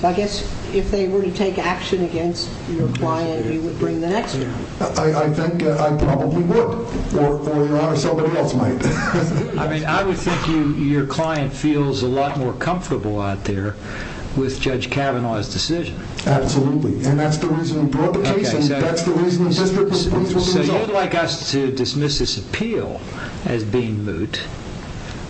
I guess if they were to take action against your client, you would bring the next one. I think I probably would. Or your Honor, somebody else might. I mean, I would think your client feels a lot more comfortable out there with Judge Kavanaugh's decision. Absolutely, and that's the reason we brought the case and that's the reason the district was able to resolve it. So you'd like us to dismiss this appeal as being moot.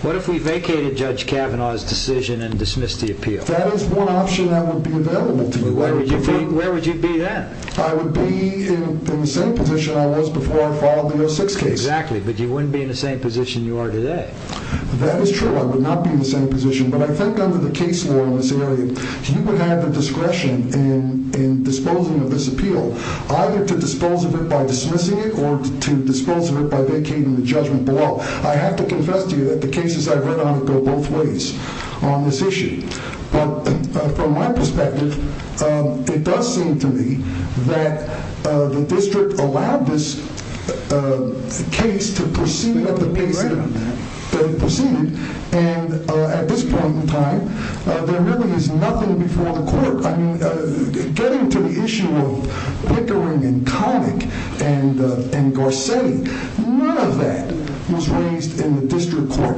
What if we vacated Judge Kavanaugh's decision and dismissed the appeal? That is one option I would be available to you. Where would you be then? I would be in the same position I was before I filed the 06 case. Exactly, but you wouldn't be in the same position you are today. That is true, I would not be in the same position, but I think under the case law in this area, you would have the discretion in disposing of this appeal. Either to dispose of it by dismissing it or to dispose of it by vacating the judgment block. I have to confess to you that the cases I've read on it go both ways on this issue. From my perspective, it does seem to me that the district allowed this case to proceed as it may have proceeded, and at this point in time, there really is nothing before the court. Getting to the issue of Lickering and Connick and Dorsetti, none of that was raised in the district court.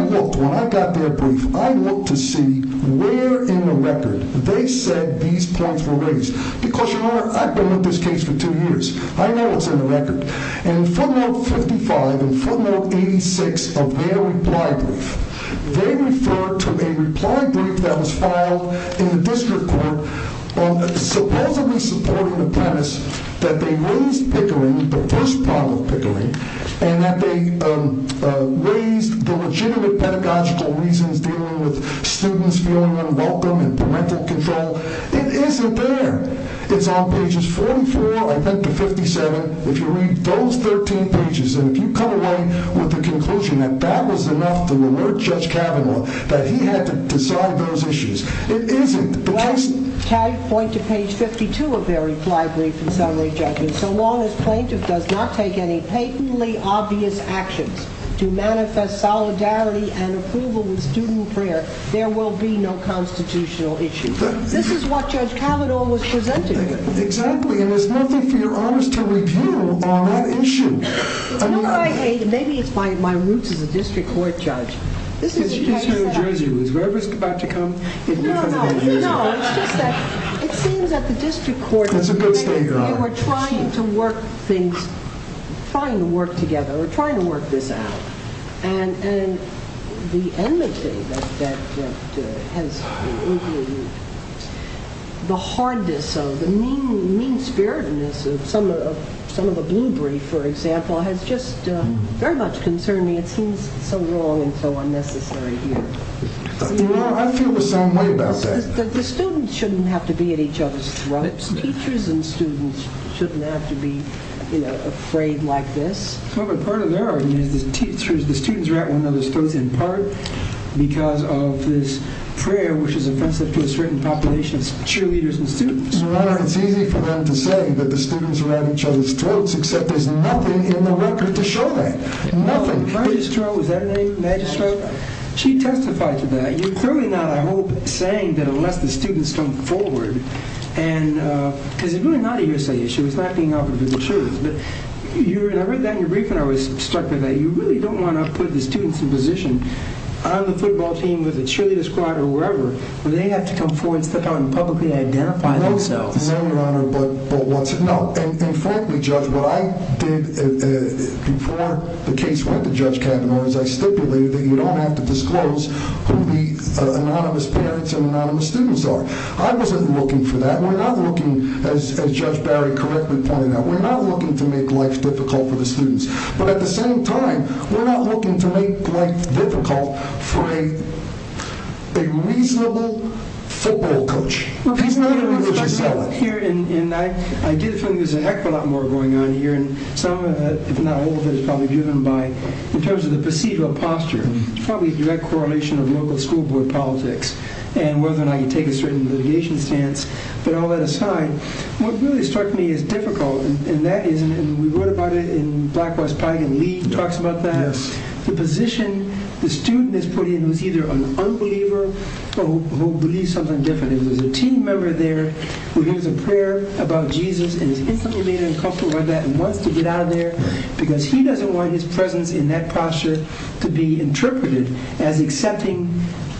When I got their brief, I looked to see where in the record they said these points were raised. Because you know, I've been in this case for two years. I know what's in the record. In formula 55 and formula 86 of their reply brief, they referred to a reply brief that was filed in the district court supposedly supporting the premise that they raised Pickering, but this model Pickering, and that they raised the legitimate pedagogical reasons dealing with students feeling unwelcome and parental control. It isn't there. It's on pages 44, I think, to 57. If you read those 13 pages, and if you come away with the conclusion that that was enough to alert Judge Kavanaugh that he had to decide those issues, it isn't. But I see. Tag point to page 52 of their reply brief and summary judgment. So long as plaintiff does not take any patently obvious actions to manifest solidarity and approval with student prayer, there will be no constitutional issues. This is what Judge Kavanaugh was presenting. Exactly, and there's nothing for your honesty to reveal on that issue. Maybe it's my roots as a district court judge. It seems that the district court was trying to work things, trying to work together, trying to work this out. And the enmity that has been the hardness of it, the mean-spiritedness of some of the blue brief, for example, has just very much concerned me. It seems so long and so unnecessary here. I feel the same way about that. The students shouldn't have to be at each other's throats. Teachers and students shouldn't have to be afraid like this. But part of that argument is the teachers, the students, are at one another's throats in part because of this prayer, which is offensive to a certain population of cheerleaders and students. I don't feel compelled to say that the students are at each other's throats, except there's nothing in the record to show that. Nothing. Magistro, is that the name? Magistro? She testified to that. You're clearly not, I hope, saying that it will let the students come forward. And you were not here saying it. She was backing off of the assurance. I read that in your brief and I was struck by that. You really don't want to put the students in position, either the football team or the cheerleader squad or wherever, where they have to come forward and publicly identify. I hope so. No, Your Honor, but what's not, and frankly, Judge, what I did before the case went to Judge Kavanaugh is I stipulated that you don't have to disclose who the anonymous parents and anonymous students are. I wasn't looking for that. We're not looking, as Judge Barry correctly pointed out, we're not looking to make life difficult for the students. But at the same time, we're not looking to make life difficult for a reasonable football coach. Here in that, I do think there's a heck of a lot more going on here, and some, if not all of it, is probably driven by, in terms of the procedural posture, probably a direct correlation of local school board politics and whether or not you take a certain litigation stance. But all that aside, what really struck me is difficult, and that is, and we wrote about it in Black, White, Pride, and League, talks about that, the position the student is put in is either an unbeliever or who believes something different. There's a team member there who hears a prayer about Jesus and is infinitely uncomfortable with that and wants to get out of there because he doesn't want his presence in that posture to be interpreted as accepting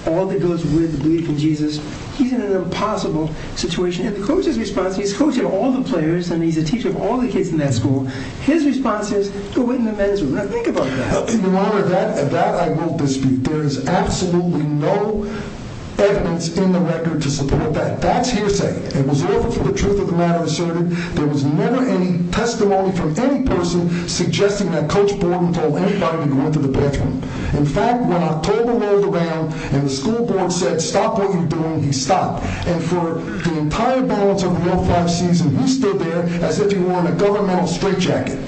all that goes with believing in Jesus. He's in an impossible situation. And the coach's response, he's coaching all the players, and he's a teacher of all the kids in that school. His response is, go in the men's room. Now, think about that. How can you honor that? And that, I won't dispute. There is absolutely no evidence in the record to support that. That's hearsay. It was never for the truth of the matter asserted. There was never any testimony from any person suggesting that Coach Borman told anybody to go into the bedroom. In fact, when October rolled around and the school board said, stop what you're doing, he stopped. And for the entire balance of the 05 season, he stood there as if he wore a governmental straitjacket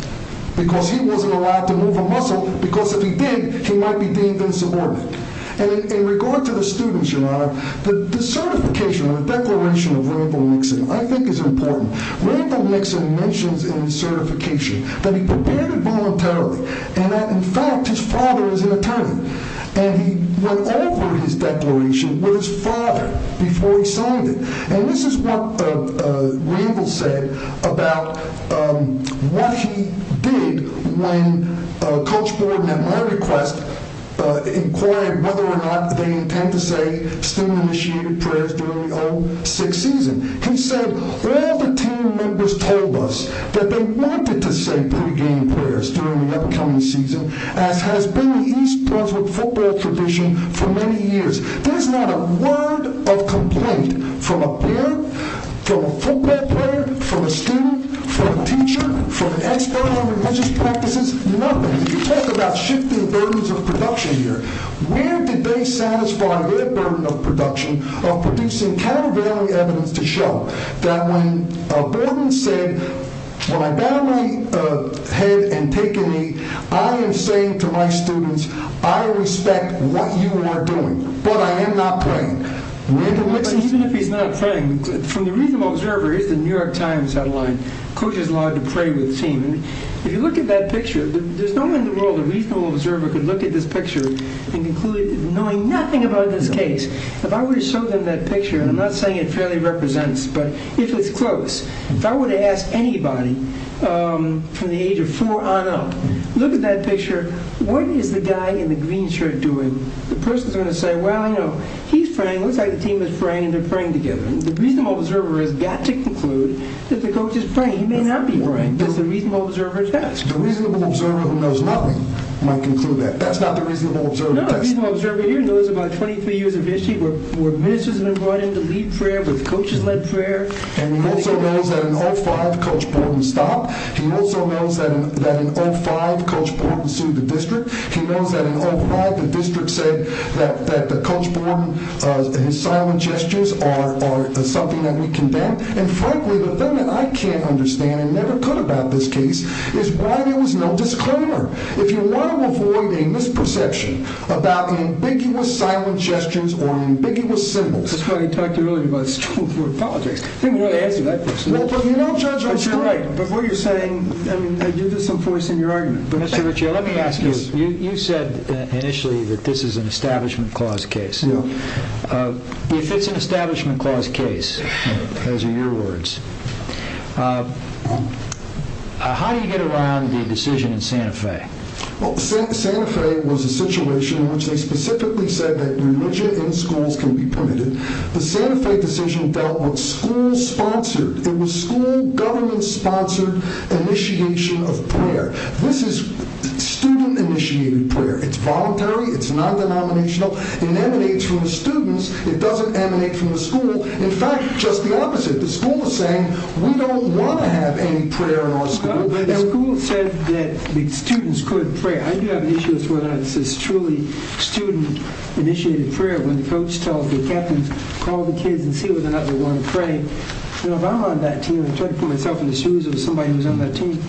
because he wasn't allowed to move a muscle because if he did, he might be deemed insubordinate. And in regard to the students, you know, the certification or the declaration of Rambo Nixon I think is important. Rambo Nixon mentions in his certification that he prepared voluntarily and that, in fact, his father was an attorney. And he went over his declaration with his father before he signed it. And this is what Rambo said about what he did when Coach Borman and Margaret Quest inquired whether or not they intend to say student-initiated prayers during the 06 season. He said, all the team members told us that they wanted to say pre-game prayers during the upcoming season, as has been the East Brunswick football tradition for many years. There's not a word of complaint from a parent, from a football player, from a student, from a teacher, from an expert on religious practices, nothing. You talk about shifting burdens of production here. Where did they satisfy their burden of production of producing Calvary evidence to show that when Borman said, when I bow my head and take a knee, I am saying to my students, I respect what you are doing, but I am not praying. Even if he's not praying, from the Regional Observer, here's the New York Times headline, Coach is allowed to pray with the team. If you look at that picture, there's no way in the world a Regional Observer could look at this picture knowing nothing about this case. If I were to show them that picture, and I'm not saying it fairly represents, but if it's close, if I were to ask anybody from the age of four on up, look at that picture, what is the guy in the green shirt doing? The person is going to say, well, I know, he's praying, looks like the team is praying, and they're praying together. The Regional Observer has got to conclude that the coach is praying. He may not be praying, but the Regional Observer does. The Regional Observer of the Mesoamerican might conclude that. That's not the Regional Observer. No, the Regional Observer here knows about 23 years of history, where ministers have been brought in to lead prayer, where the coaches led prayer. And he also knows that in all five, Coach Borman stopped. He also knows that in all five, Coach Borman sued the district. He knows that in all five, the district said that Coach Borman, his silent gestures are something that we condemn. In fact, the thing that I can't understand, never could about this case, is why there was no disclaimer. If you want to avoid a misperception about an ambiguous silent gesture or an ambiguous sentence, that's why I talked to you earlier about this. I apologize. I didn't want to answer that question. Well, you know, Judge, you're right. But what you're saying, I mean, you're disenforcing your argument. Mr. Ritchie, let me ask you. You said initially that this is an Establishment Clause case. Yeah. If it's an Establishment Clause case, those are your words, how do you get around the decision in Santa Fe? Well, Santa Fe was a situation in which they specifically said that religion in schools can be permitted. The Santa Fe decision dealt with school-sponsored, it was school-government-sponsored initiation of prayer. This is student-initiated prayer. It's voluntary. It's non-denominational. It emanates from the students. It doesn't emanate from the school. In fact, just the opposite. The school was saying, we don't want to have any prayer in our school. But the school said that the students could pray. I do have an issue with whether this is truly student-initiated prayer when folks tell the captain, call the kids and see if they're not willing to pray. And if I'm on that team and put myself in the shoes of somebody who's on that team,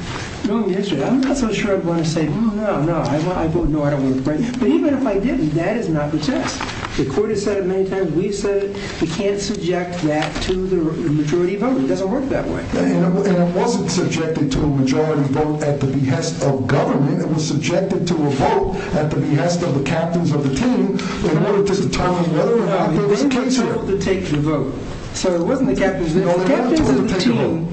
I'm not so sure I'm going to say, hmm, no, no, I don't want to pray. But even if I did, that is not the case. The court has said it many times. We've said it. You can't subject that to the majority vote. It doesn't work that way. And it wasn't subjected to a majority vote at the behest of government. It was subjected to a vote at the behest of the captains of the team in order to determine whether or not to take the vote. So it wasn't the captains. The captains of the team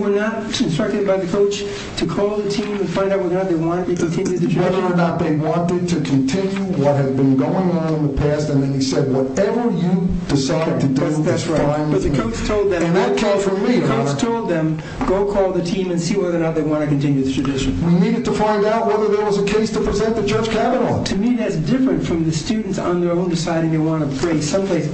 were not instructed by the coach to call the team and find out whether or not they wanted to continue the tradition. Whether or not they wanted to continue what had been going on in the past. And then he said, whatever you decide to do. That's right. But the coach told them, go call the team and see whether or not they want to continue the tradition. We needed to find out whether there was a case to present the judge to have it on. To me, that's different from the students on their own deciding they want to pray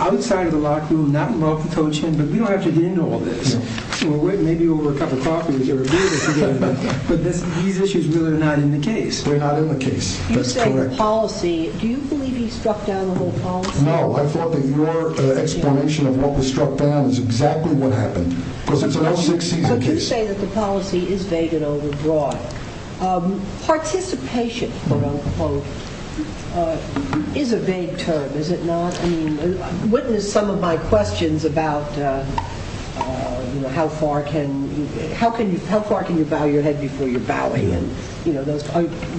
outside of the locker room, not in the coach's room. But we don't have to do all this. Maybe over a cup of coffee. These issues really are not in the case. They're not in the case. You say policy. Do you believe he struck down the whole policy? No. I thought that your explanation of what was struck down was exactly what happened. So you say that the policy is vague and overbroad. Participation, quote, unquote, is a vague term. Witness some of my questions about how far can you bow your head before you're bowing.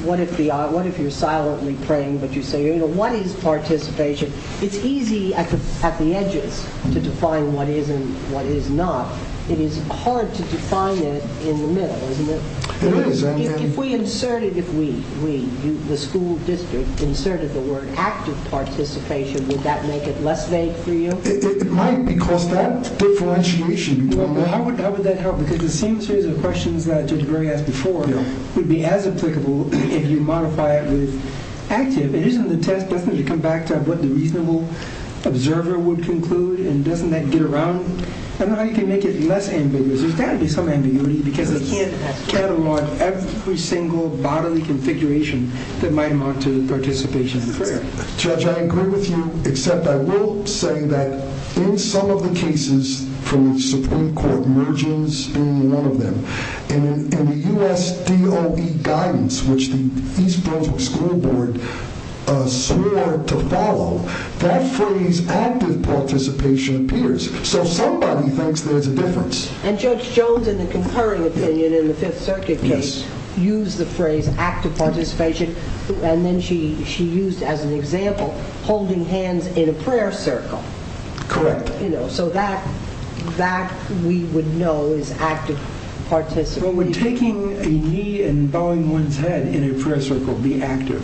What if you're silently praying, but you say, what is participation? It's easy at the edges to define what is and what is not. It is hard to define it in the middle. If we inserted, if we, the school district, inserted the word active participation, would that make it less vague for you? It might because that differentiation, how would that help? Because it seems to me the questions that Judge Murray asked before would be as applicable if you modify it with active. It is an attempt to come back to what the reasonable observer would conclude and doesn't that get around? I don't know how you can make it less ambiguous. There's got to be some ambiguity because you can't catalog every single bodily configuration that might amount to participation in the prayer. Judge, I agree with you, except I will say that in some of the cases from the Supreme Court, mergings being one of them, in the U.S. DOE guidance, which the East Brooklyn School Board swore to follow, that phrase active participation appears. So somebody thinks there's a difference. And Judge shows in the concurring opinion in the Fifth Circuit case, used the phrase active participation, and then she used as an example holding hands in a prayer circle. Correct. You know, so that, that we would know is active participation. Well, we're taking a knee and bowing one's head in a prayer circle, being active.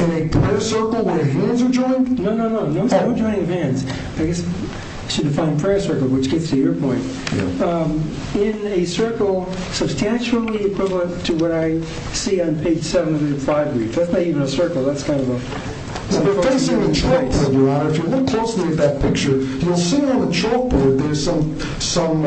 In a prayer circle where hands are joined? No, no, no, no, no hands. I guess she defined prayer circle, which gets to your point. In a circle, substantially equivalent to what I see on page 705 of your brief. That's not even a circle. That's kind of a... Well, they're facing the chalkboard, Your Honor. If you look closely at that picture, you'll see on the chalkboard there's some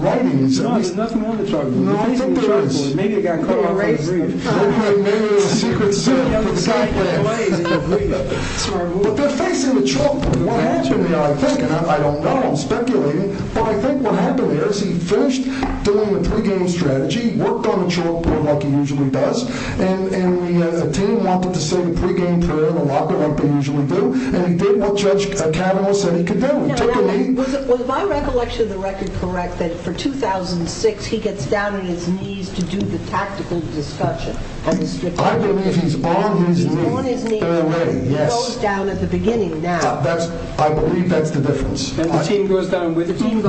writing. No, there's nothing on the chalkboard. No, I think there is. Maybe they got caught up in the agreement. Maybe they were secretly sitting down with the guy playing the agreement. But they're facing the chalkboard. I'm speculating, but I think what happened is he finished doing a pregame strategy, worked on the chalkboard like he usually does, and he continued on with the same pregame prayer in the locker like they usually do, and he did what Judge Canova said he could do, take a knee. Was my recollection of the record correct that for 2006, he gets down on his knees to do the tactical discussion? I believe he's on his knees. He's on his knees. Yes. He goes down at the beginning now. I believe that's the difference. The team goes down with the team.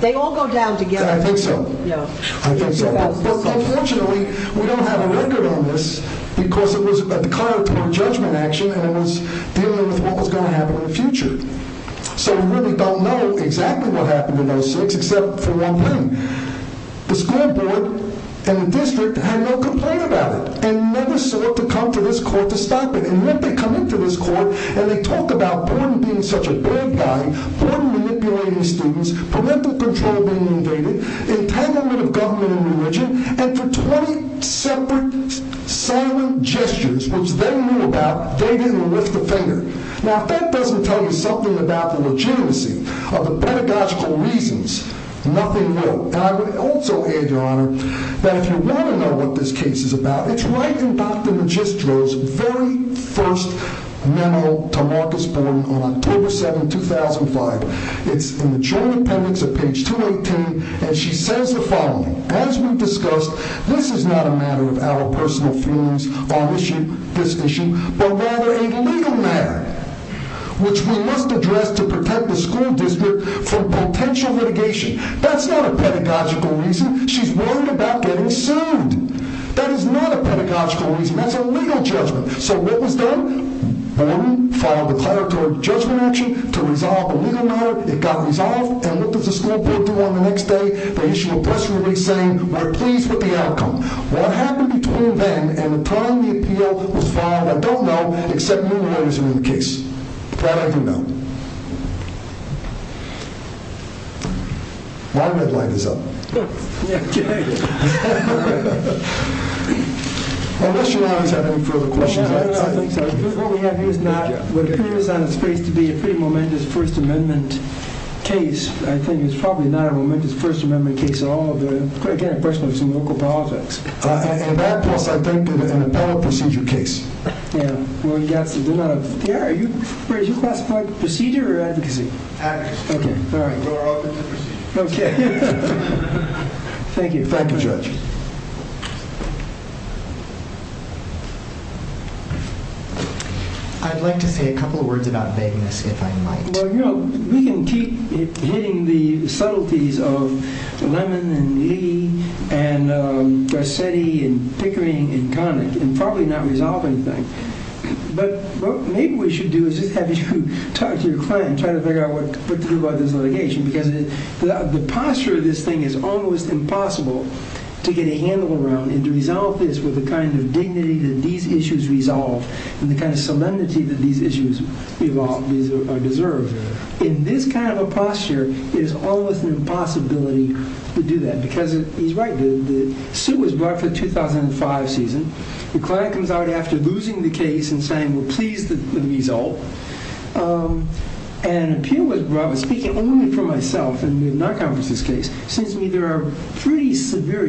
They all go down together. I think so. No. I think so. But, unfortunately, we don't have a record on this because it was a dichotomy of judgment action and it was dealing with what was going to happen in the future. So we really don't know exactly what happened in those states except for one thing. The school board and the district had no complaint about it and never sought to come to this court to stop it, and yet they come into this court and they talk about Gordon being such a bad guy, Gordon manipulating his students, political control being invaded, entanglement of government and religion, and for 20 separate silent gestures, which they knew about, David will lift a finger. Now, if that doesn't tell you something about the legitimacy of the pedagogical reasons, nothing will. And I would also add, Your Honor, that if you want to know what this case is about, it's right in Dr. Magistro's very first memo to Marcus Boyle on October 7, 2005. It's in the general appendix at page 218, and she says the following, as we've discussed, this is not a matter of our personal feelings on this issue, but rather a legal matter, which we must address to protect the school district from potential litigation. That's not a pedagogical reason. She's worried about getting sued. That is not a pedagogical reason. That's a legal judgment. So what was done? Gordon filed a declaratory judgment action to resolve the legal matter. It got resolved and went to the school district on the next day. They issued a press release saying, we're pleased with the outcome. What happened between then and the time the appeal was filed, I don't know, except in the lawyers in the case. That I do know. My red light is up. Okay. Unless you want me to have to refer to questions. I don't know. What we have here is not, what appears on his face to be a pretty momentous First Amendment case. I think it's probably not a momentous First Amendment case at all. Again, personally, it's in local politics. And that was the benefit of an appellate procedure case, where he got to do that. Yeah. Is that procedure or advocacy? Advocacy. Okay. Okay. Thank you. Thank you, Judge. I'd like to say a couple of words about making a skip, if I might. Well, you know, we can keep hitting the subtleties of Lemon and Lee and Garcetti and Pickering and Connick and probably not resolving things. But what maybe we should do is have you talk to your client and try to figure out what to do about this litigation. Because the posture of this thing is almost impossible to get a handle around and to resolve this with the kind of dignity that these issues resolve and the kind of solemnity that these issues deserve. In this kind of a posture, there's always an impossibility to do that. Because he's right. The suit was brought for the 2005 season. The client comes out after losing the case and saying we're pleased with the result. And the appeal was brought, speaking only for myself and the non-compliance case, seems to me there are pretty severe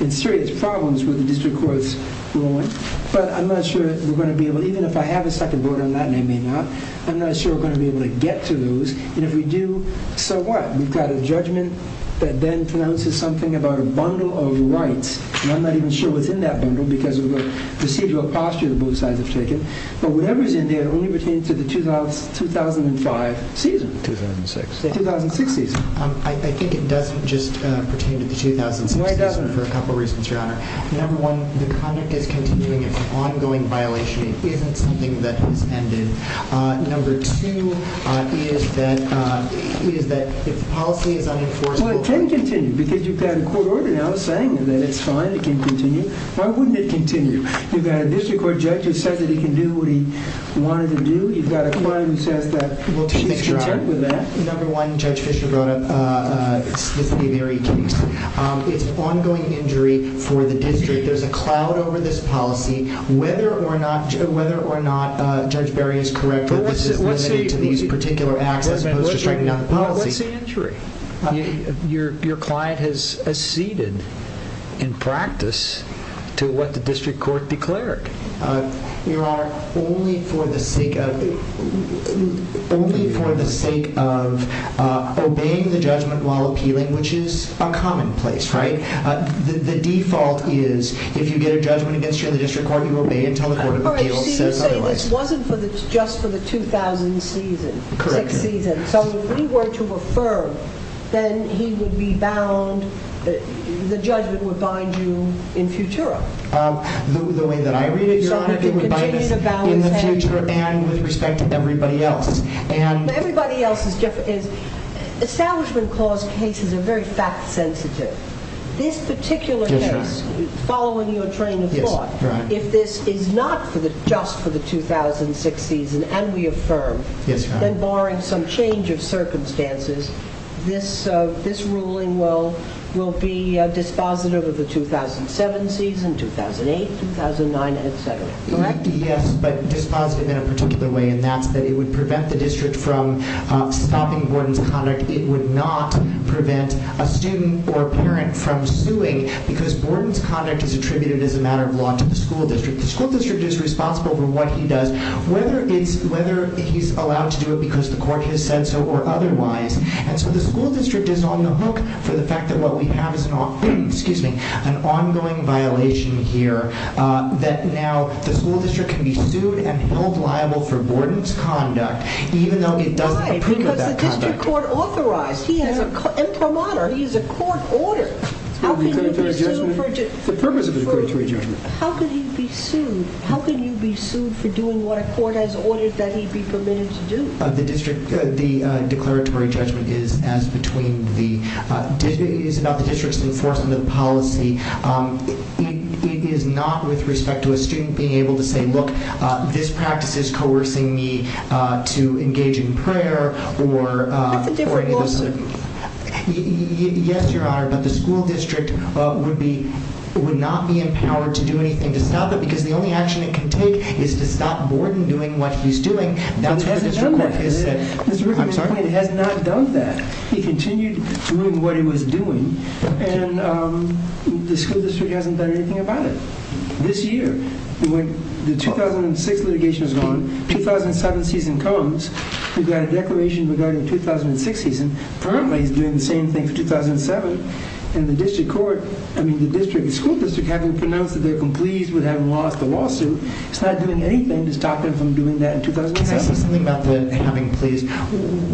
and serious problems with the district court's ruling. But I'm not sure that we're going to be able to, even if I have a second voter, and that may or may not, I'm not sure if we're going to be able to get to those. And if we do, so what? We've got a judgment that then pronounces something about a bundle of rights. And I'm not even sure what's in that bundle because of the procedural posture that both sides have taken. But whatever's in there, it only pertains to the 2005 season. 2006. The 2006 season. I think it does just pertain to 2005. It does pertain to a couple of reasons, Your Honor. Number one, the conduct is continuing. It's an ongoing violation. It is something that ended. Number two is that the policy is unenforced. Well, it can continue because you've got a court order now saying that it's fine, it can continue. Why wouldn't it continue? You've got a district court judge who said that he can do what he wanted to do. You've got a court that says that, well, she's determined to do that. Number one, Judge Fischer brought up Mr. Berry's case. It's ongoing injury for the district. There's a cloud over this policy. Whether or not Judge Berry is correct or this is related to these particular actions, those are taken out of the policy. Well, what's the injury? Your client has acceded in practice to what the district court declared. Your Honor, only for the sake of obeying the judgment while appealing, which is a commonplace, right? The default is if you get a judgment against you in the district court, you obey until the court has appealed. It wasn't just for the 2000 season. Correct. So if we were to affirm, then he would be bound, the judgment would bind you in futuro. The way that I read it, Your Honor, it would bind you in the future and with respect to everybody else. Everybody else is different. Establishment clause cases are very fact-sensitive. This particular case, following you in turning the court, if it's not just for the 2006 season and we affirm, then barring some change of circumstances, this ruling will be dispositive of the 2007 season, 2008, 2009, et cetera. Correct? Yes, but dispositive in a particular way in that it would prevent the district from stopping Gordon's conduct. It would not prevent a student or a parent from suing because Gordon's conduct is attributed as a matter of law to the school district. The school district is responsible for what he does. Whether he's allowed to do it because the court has said so or otherwise, the school district is on the hook for the fact that what we have is an ongoing violation here that now the school district can be sued and can hold liable for Gordon's conduct even though they don't approve of that conduct. But the district court authorized him. He's a promoter. He's a court order. Yes, the purpose of the declaratory judgment. How could he be sued? How could he be sued for doing what a court has ordered that he be permitted to do? The declaratory judgment is between the district's enforcement of policy. It is not with respect to a student being able to say, look, this practice is coercing me to engage in prayer. It's a different book. Yes, Your Honor, but the school district would not be empowered to do anything to stop it because the only action it can take is to stop Gordon doing what he's doing. Now, he has to tell that because it has not done that. He continued doing what he was doing, and the school district hasn't done anything about it. This year, the 2006 litigation is on. 2007 season comes. We've got a declaration regarding the 2006 season. Currently, he's doing the same thing since 2007, and the school district hasn't pronounced that they're unpleased with having lost the lawsuit. It's not doing anything to stop him from doing that in 2007. Can I ask you something about the coming pleas?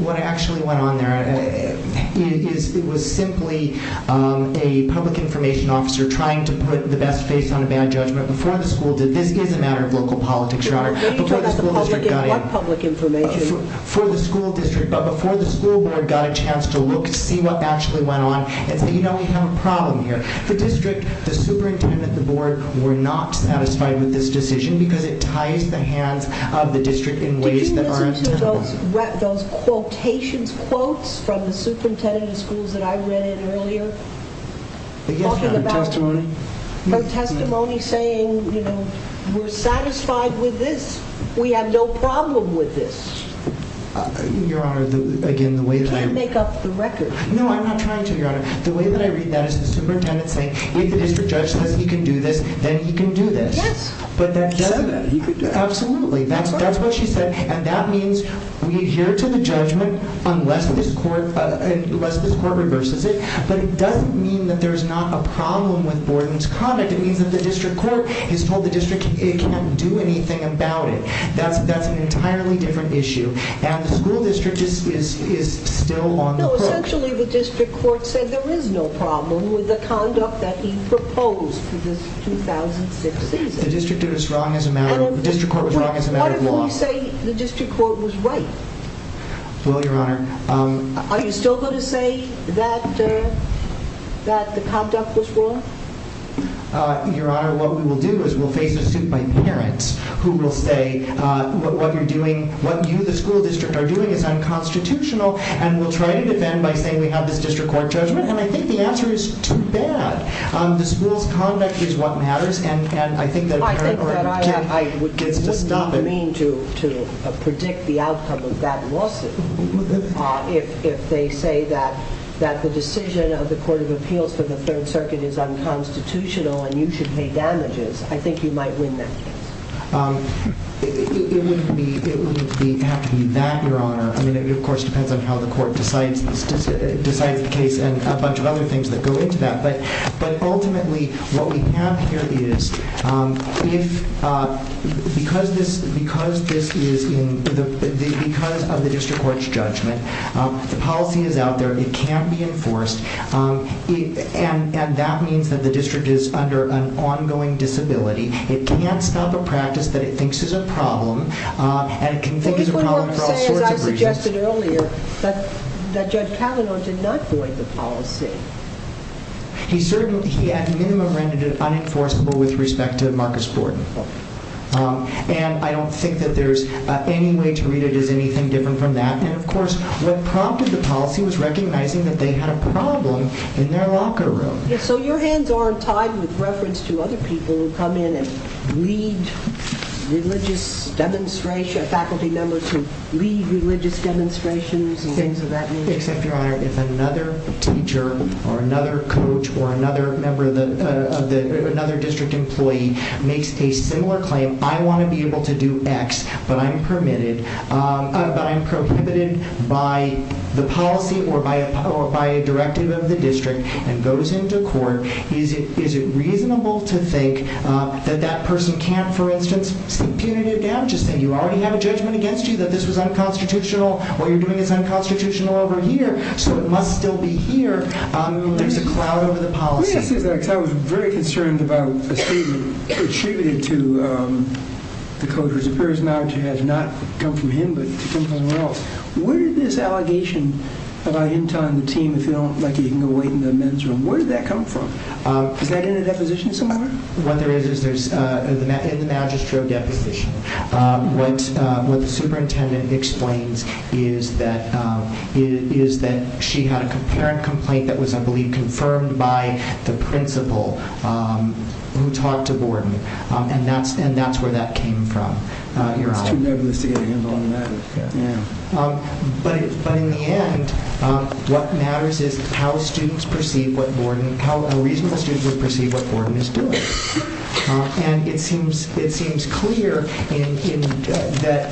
What actually went on there is it was simply a public information officer trying to put the best face on a bad judgment before the school did. This is a matter of local politics, Your Honor. It's not public information. Before the school board got a chance to look and see what actually went on, we have a problem here. The district, the superintendent, the board were not satisfied with this decision because it tied the hand of the district in ways that aren't necessary. Did you hear those quotations, quotes from the superintendent of the schools that I read in earlier? From testimony saying, you know, we're satisfied with this. We have no problem with this. Your Honor, again, the way that I read that... You can't make up the record. No, I'm not trying to, Your Honor. The way that I read that is the superintendent saying, if it's a judgment that he can do this, then he can do this. But that doesn't mean that he can do that. Absolutely, that's what she said. That means we adhere to the judgment unless the court reverses it. But it doesn't mean that there's not a problem with Borden's comment. It means that the district court has told the district it can't do anything about it. That's an entirely different issue. Now, the school district is still on the court. No, essentially the district court said there is no problem with the conduct that he proposed to this 2006 decision. The district did as wrong as a matter of law. How do you say the district court was right? Well, Your Honor... Are you still going to say that the conduct was wrong? Your Honor, what we will do is we'll face a suit by parents who will say what you, the school district, are doing is unconstitutional, and we'll try to defend by saying we have the district court judgment, and I think the answer is too bad. The school's conduct is what matters, and I think that parents... What I would just not mean to predict the outcome of that lawsuit if they say that the decision of the Court of Appeals for the Third Circuit is unconstitutional and you should pay damages. I think you might win that case. It wouldn't have to be that, Your Honor. I mean, it, of course, depends on how the court decided the case and a bunch of other things that go into that. But ultimately, what we have here is, because of the district court's judgment, the policy is out there. It can't be enforced, and that means that the district is under an ongoing disability. It can't stop a practice that it thinks is a problem, and it can think is a problem for all sorts of reasons. You mentioned earlier that Judge Kavanaugh did not void the policy. He certainly, at minimum, rendered it unenforceable with respect to Marcus Borden. And I don't think that there's any way to read it as anything different from that. And, of course, what prompted the policy was recognizing that they had a problem in their locker room. So your hands aren't tied with reference to other people who come in and lead religious demonstrations, faculty members who lead religious demonstrations, and things of that nature. If another teacher or another coach or another member of the, another district employee makes a similar claim, I want to be able to do X, but I'm prohibited by the policy or by a directive of the district and goes into court, is it reasonable to think that that person can't, for instance, continue to get damages? You already have a judgment against you that this is unconstitutional. What you're doing is unconstitutional over here, so it must still be here. There's a cloud over the policy. I was very concerned about a student who cheated to the coach's affairs knowledge and has not come from him but from somewhere else. Where did this allegation that I didn't tell you on the team, where did that come from? Did that get in a deposition somewhere? What there is, is there's a magistrate deposition. What the superintendent explains is that she had a parent complaint that was, I believe, confirmed by the principal who talked to Gordon, and that's where that came from. But in the end, what matters is how students perceive what Gordon, how reasonable students would perceive what Gordon is doing. And it seems clear that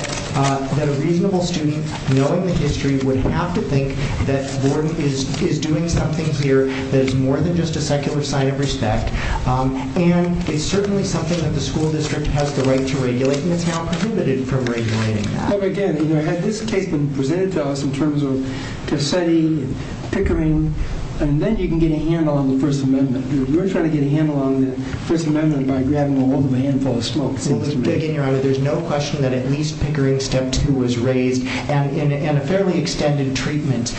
a reasonable student knowing the history would have to think that Gordon is doing something here that is more than just a secular sign of respect. And it's certainly something that the school district has the right to regulate and it's not prohibited from regulating. Again, had this case been presented to us in terms of deciding Pickering, then you can get a handle on the First Amendment. If you're trying to get a handle on the First Amendment, you've got to grab a handful of smoke. There's no question that at least Pickering Step 2 was raised and a fairly extended treatment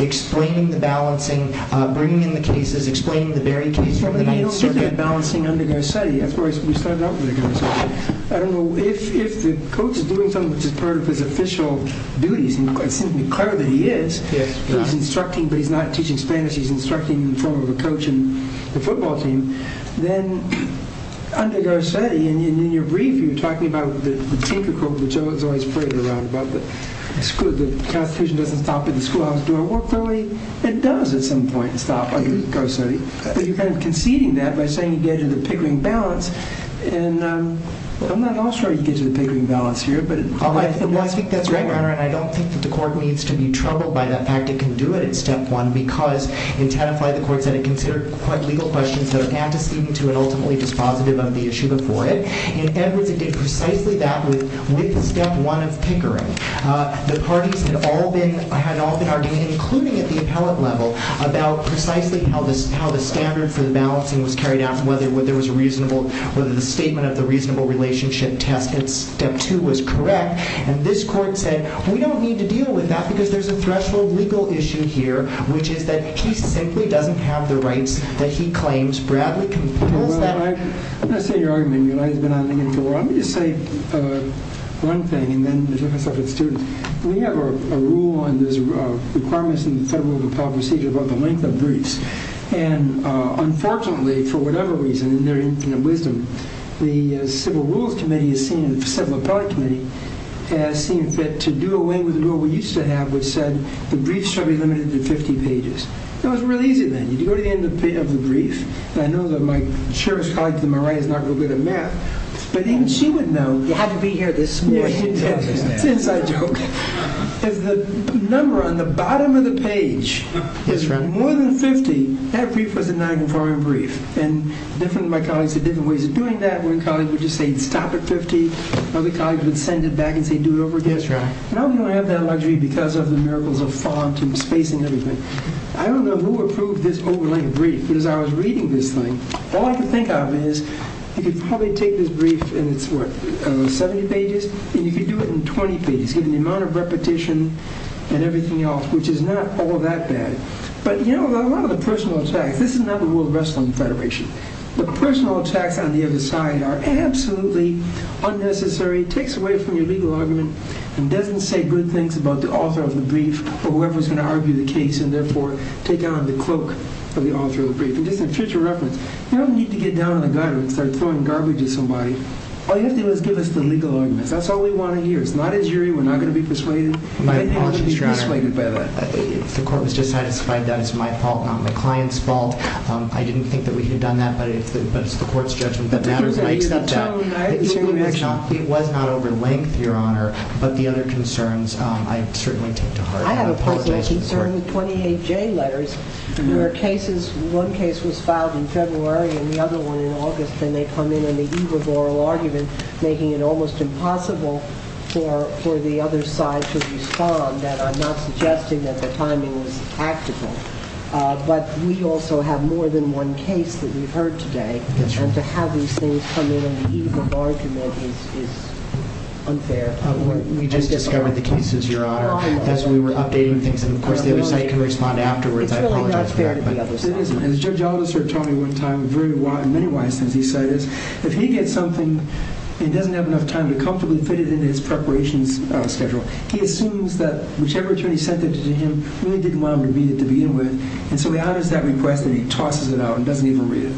explaining the balancing, bringing in the cases, explaining the very case. I don't think they're balancing under Garcetti. Of course, we started out with Garcetti. I don't know. If the coach is doing something that's part of his official duties, and it seems clear that he is, he's instructing but he's not teaching Spanish, he's instructing in the form of a coach in the football team, then under Garcetti, and in your brief, you're talking about the typical, it's always played around about the school, that the Constitution doesn't stop at the schoolhouse door, but hopefully it does at some point stop under Garcetti. But you're kind of conceding that by saying you get into the Pickering balance, and I'm not all sure you get into the Pickering balance here. I think that's right, Your Honor, and I don't think that the court needs to be troubled by the fact it can do it in Step 1 because it's had by the court that it considered quite legal questions of antecedent to an ultimately dispositive on the issue of void, and everything is precisely that with Step 1 of Pickering. The parties had all been arguing, including at the appellate level, about precisely how the standard for the balancing was carried out, whether there was a reasonable, whether the statement of the reasonable relationship test in Step 2 was correct, and this court said, we don't need to deal with that because there's a threshold legal issue here, which is that he simply doesn't have the rights that he claims Bradley can afford. I'm going to say your argument, Your Honor, we have a rule and there's a requirement in the Federal Appellate Procedure about the length of briefs, and unfortunately, for whatever reason, in their infallibilism, the Civil Rules Committee has seen, the Appellate Committee, has seen that to do away with the rule we used to have, which said the briefs shall be limited to 50 pages. That was really easy then. You go to the end of the brief, and I know that my jurist colleague to my right is not real good at math, but even she would know. You have to be here this morning. Yes, yes, I do. The number on the bottom of the page, more than 50, that brief was a non-conforming brief, and different of my colleagues did it in different ways. Doing that, one colleague would just say, stop at 50, other colleagues would send it back and say, do it over again. And I was going to have that in my dream because of the miracles of fog and space and everything. I don't know who approved this over-length brief, but as I was reading this thing, all I could think of is, you could probably take this brief and it's, what, 70 pages? And you could do it in 20 pages, with the amount of repetition and everything else, which is not all that bad. But, you know, a lot of the personal attacks, this is not the World Wrestling Federation, the personal attacks on the other side are absolutely unnecessary. It takes away from your legal argument and doesn't say good things about the author of the brief or whoever's going to argue the case and therefore take down the cloak of the author of the brief. And this is just a reference. You don't need to get down on the ground and start throwing garbage at somebody. All you have to do is give us the legal argument. That's all we want to hear. It's not injury. We're not going to be persuaded. We're not going to be persuaded by that. The court has just now described that as my fault, not the client's fault. I didn't think that we had done that, but it's the court's judgment that matters. I hear that now. It was not over-length, Your Honor, but the other concerns I certainly take to heart. I have a particular concern with 28J letters where cases, one case was filed in February and the other one in August, and they come in in the eve of oral argument, making it almost impossible for the other side to respond. I'm not suggesting that the timing was accidental, but we also have more than one case that we've heard today, and to have these things come in in the eve of oral comment is unfair. We just discovered the cases, Your Honor, as we were updating things in the court. It's still not fair to the other side. As Judge Oliver said to me one time, very wise and very wise, since he said this, if he gets something and doesn't have enough time to comfortably fit it into his preparation schedule, he assumes that whichever term he sends it to him really didn't want him to read it to begin with, and so he adds that request and he tosses it out and doesn't even read it.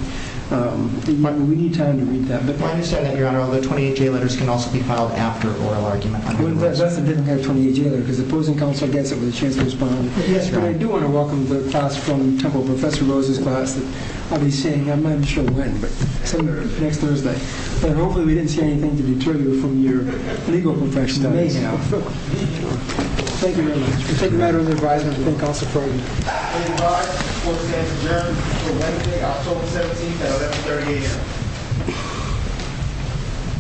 We need time to read that. My understanding, Your Honor, all the 28J letters can also be filed after oral argument. We're glad that it didn't have a 28J letter because if it was in counsel's desk, it was a chance to respond. But, yes, I do want to welcome the thoughts from Temple Professor Rose's side. I'll be seeing, I'm not even sure when, but hopefully we didn't see anything to deter you from your legal profession anyhow. Thank you, Your Honor. It's a matter of advice and full concentration. It's a matter of advice and full concentration. It's a matter of self-determination and self-determination.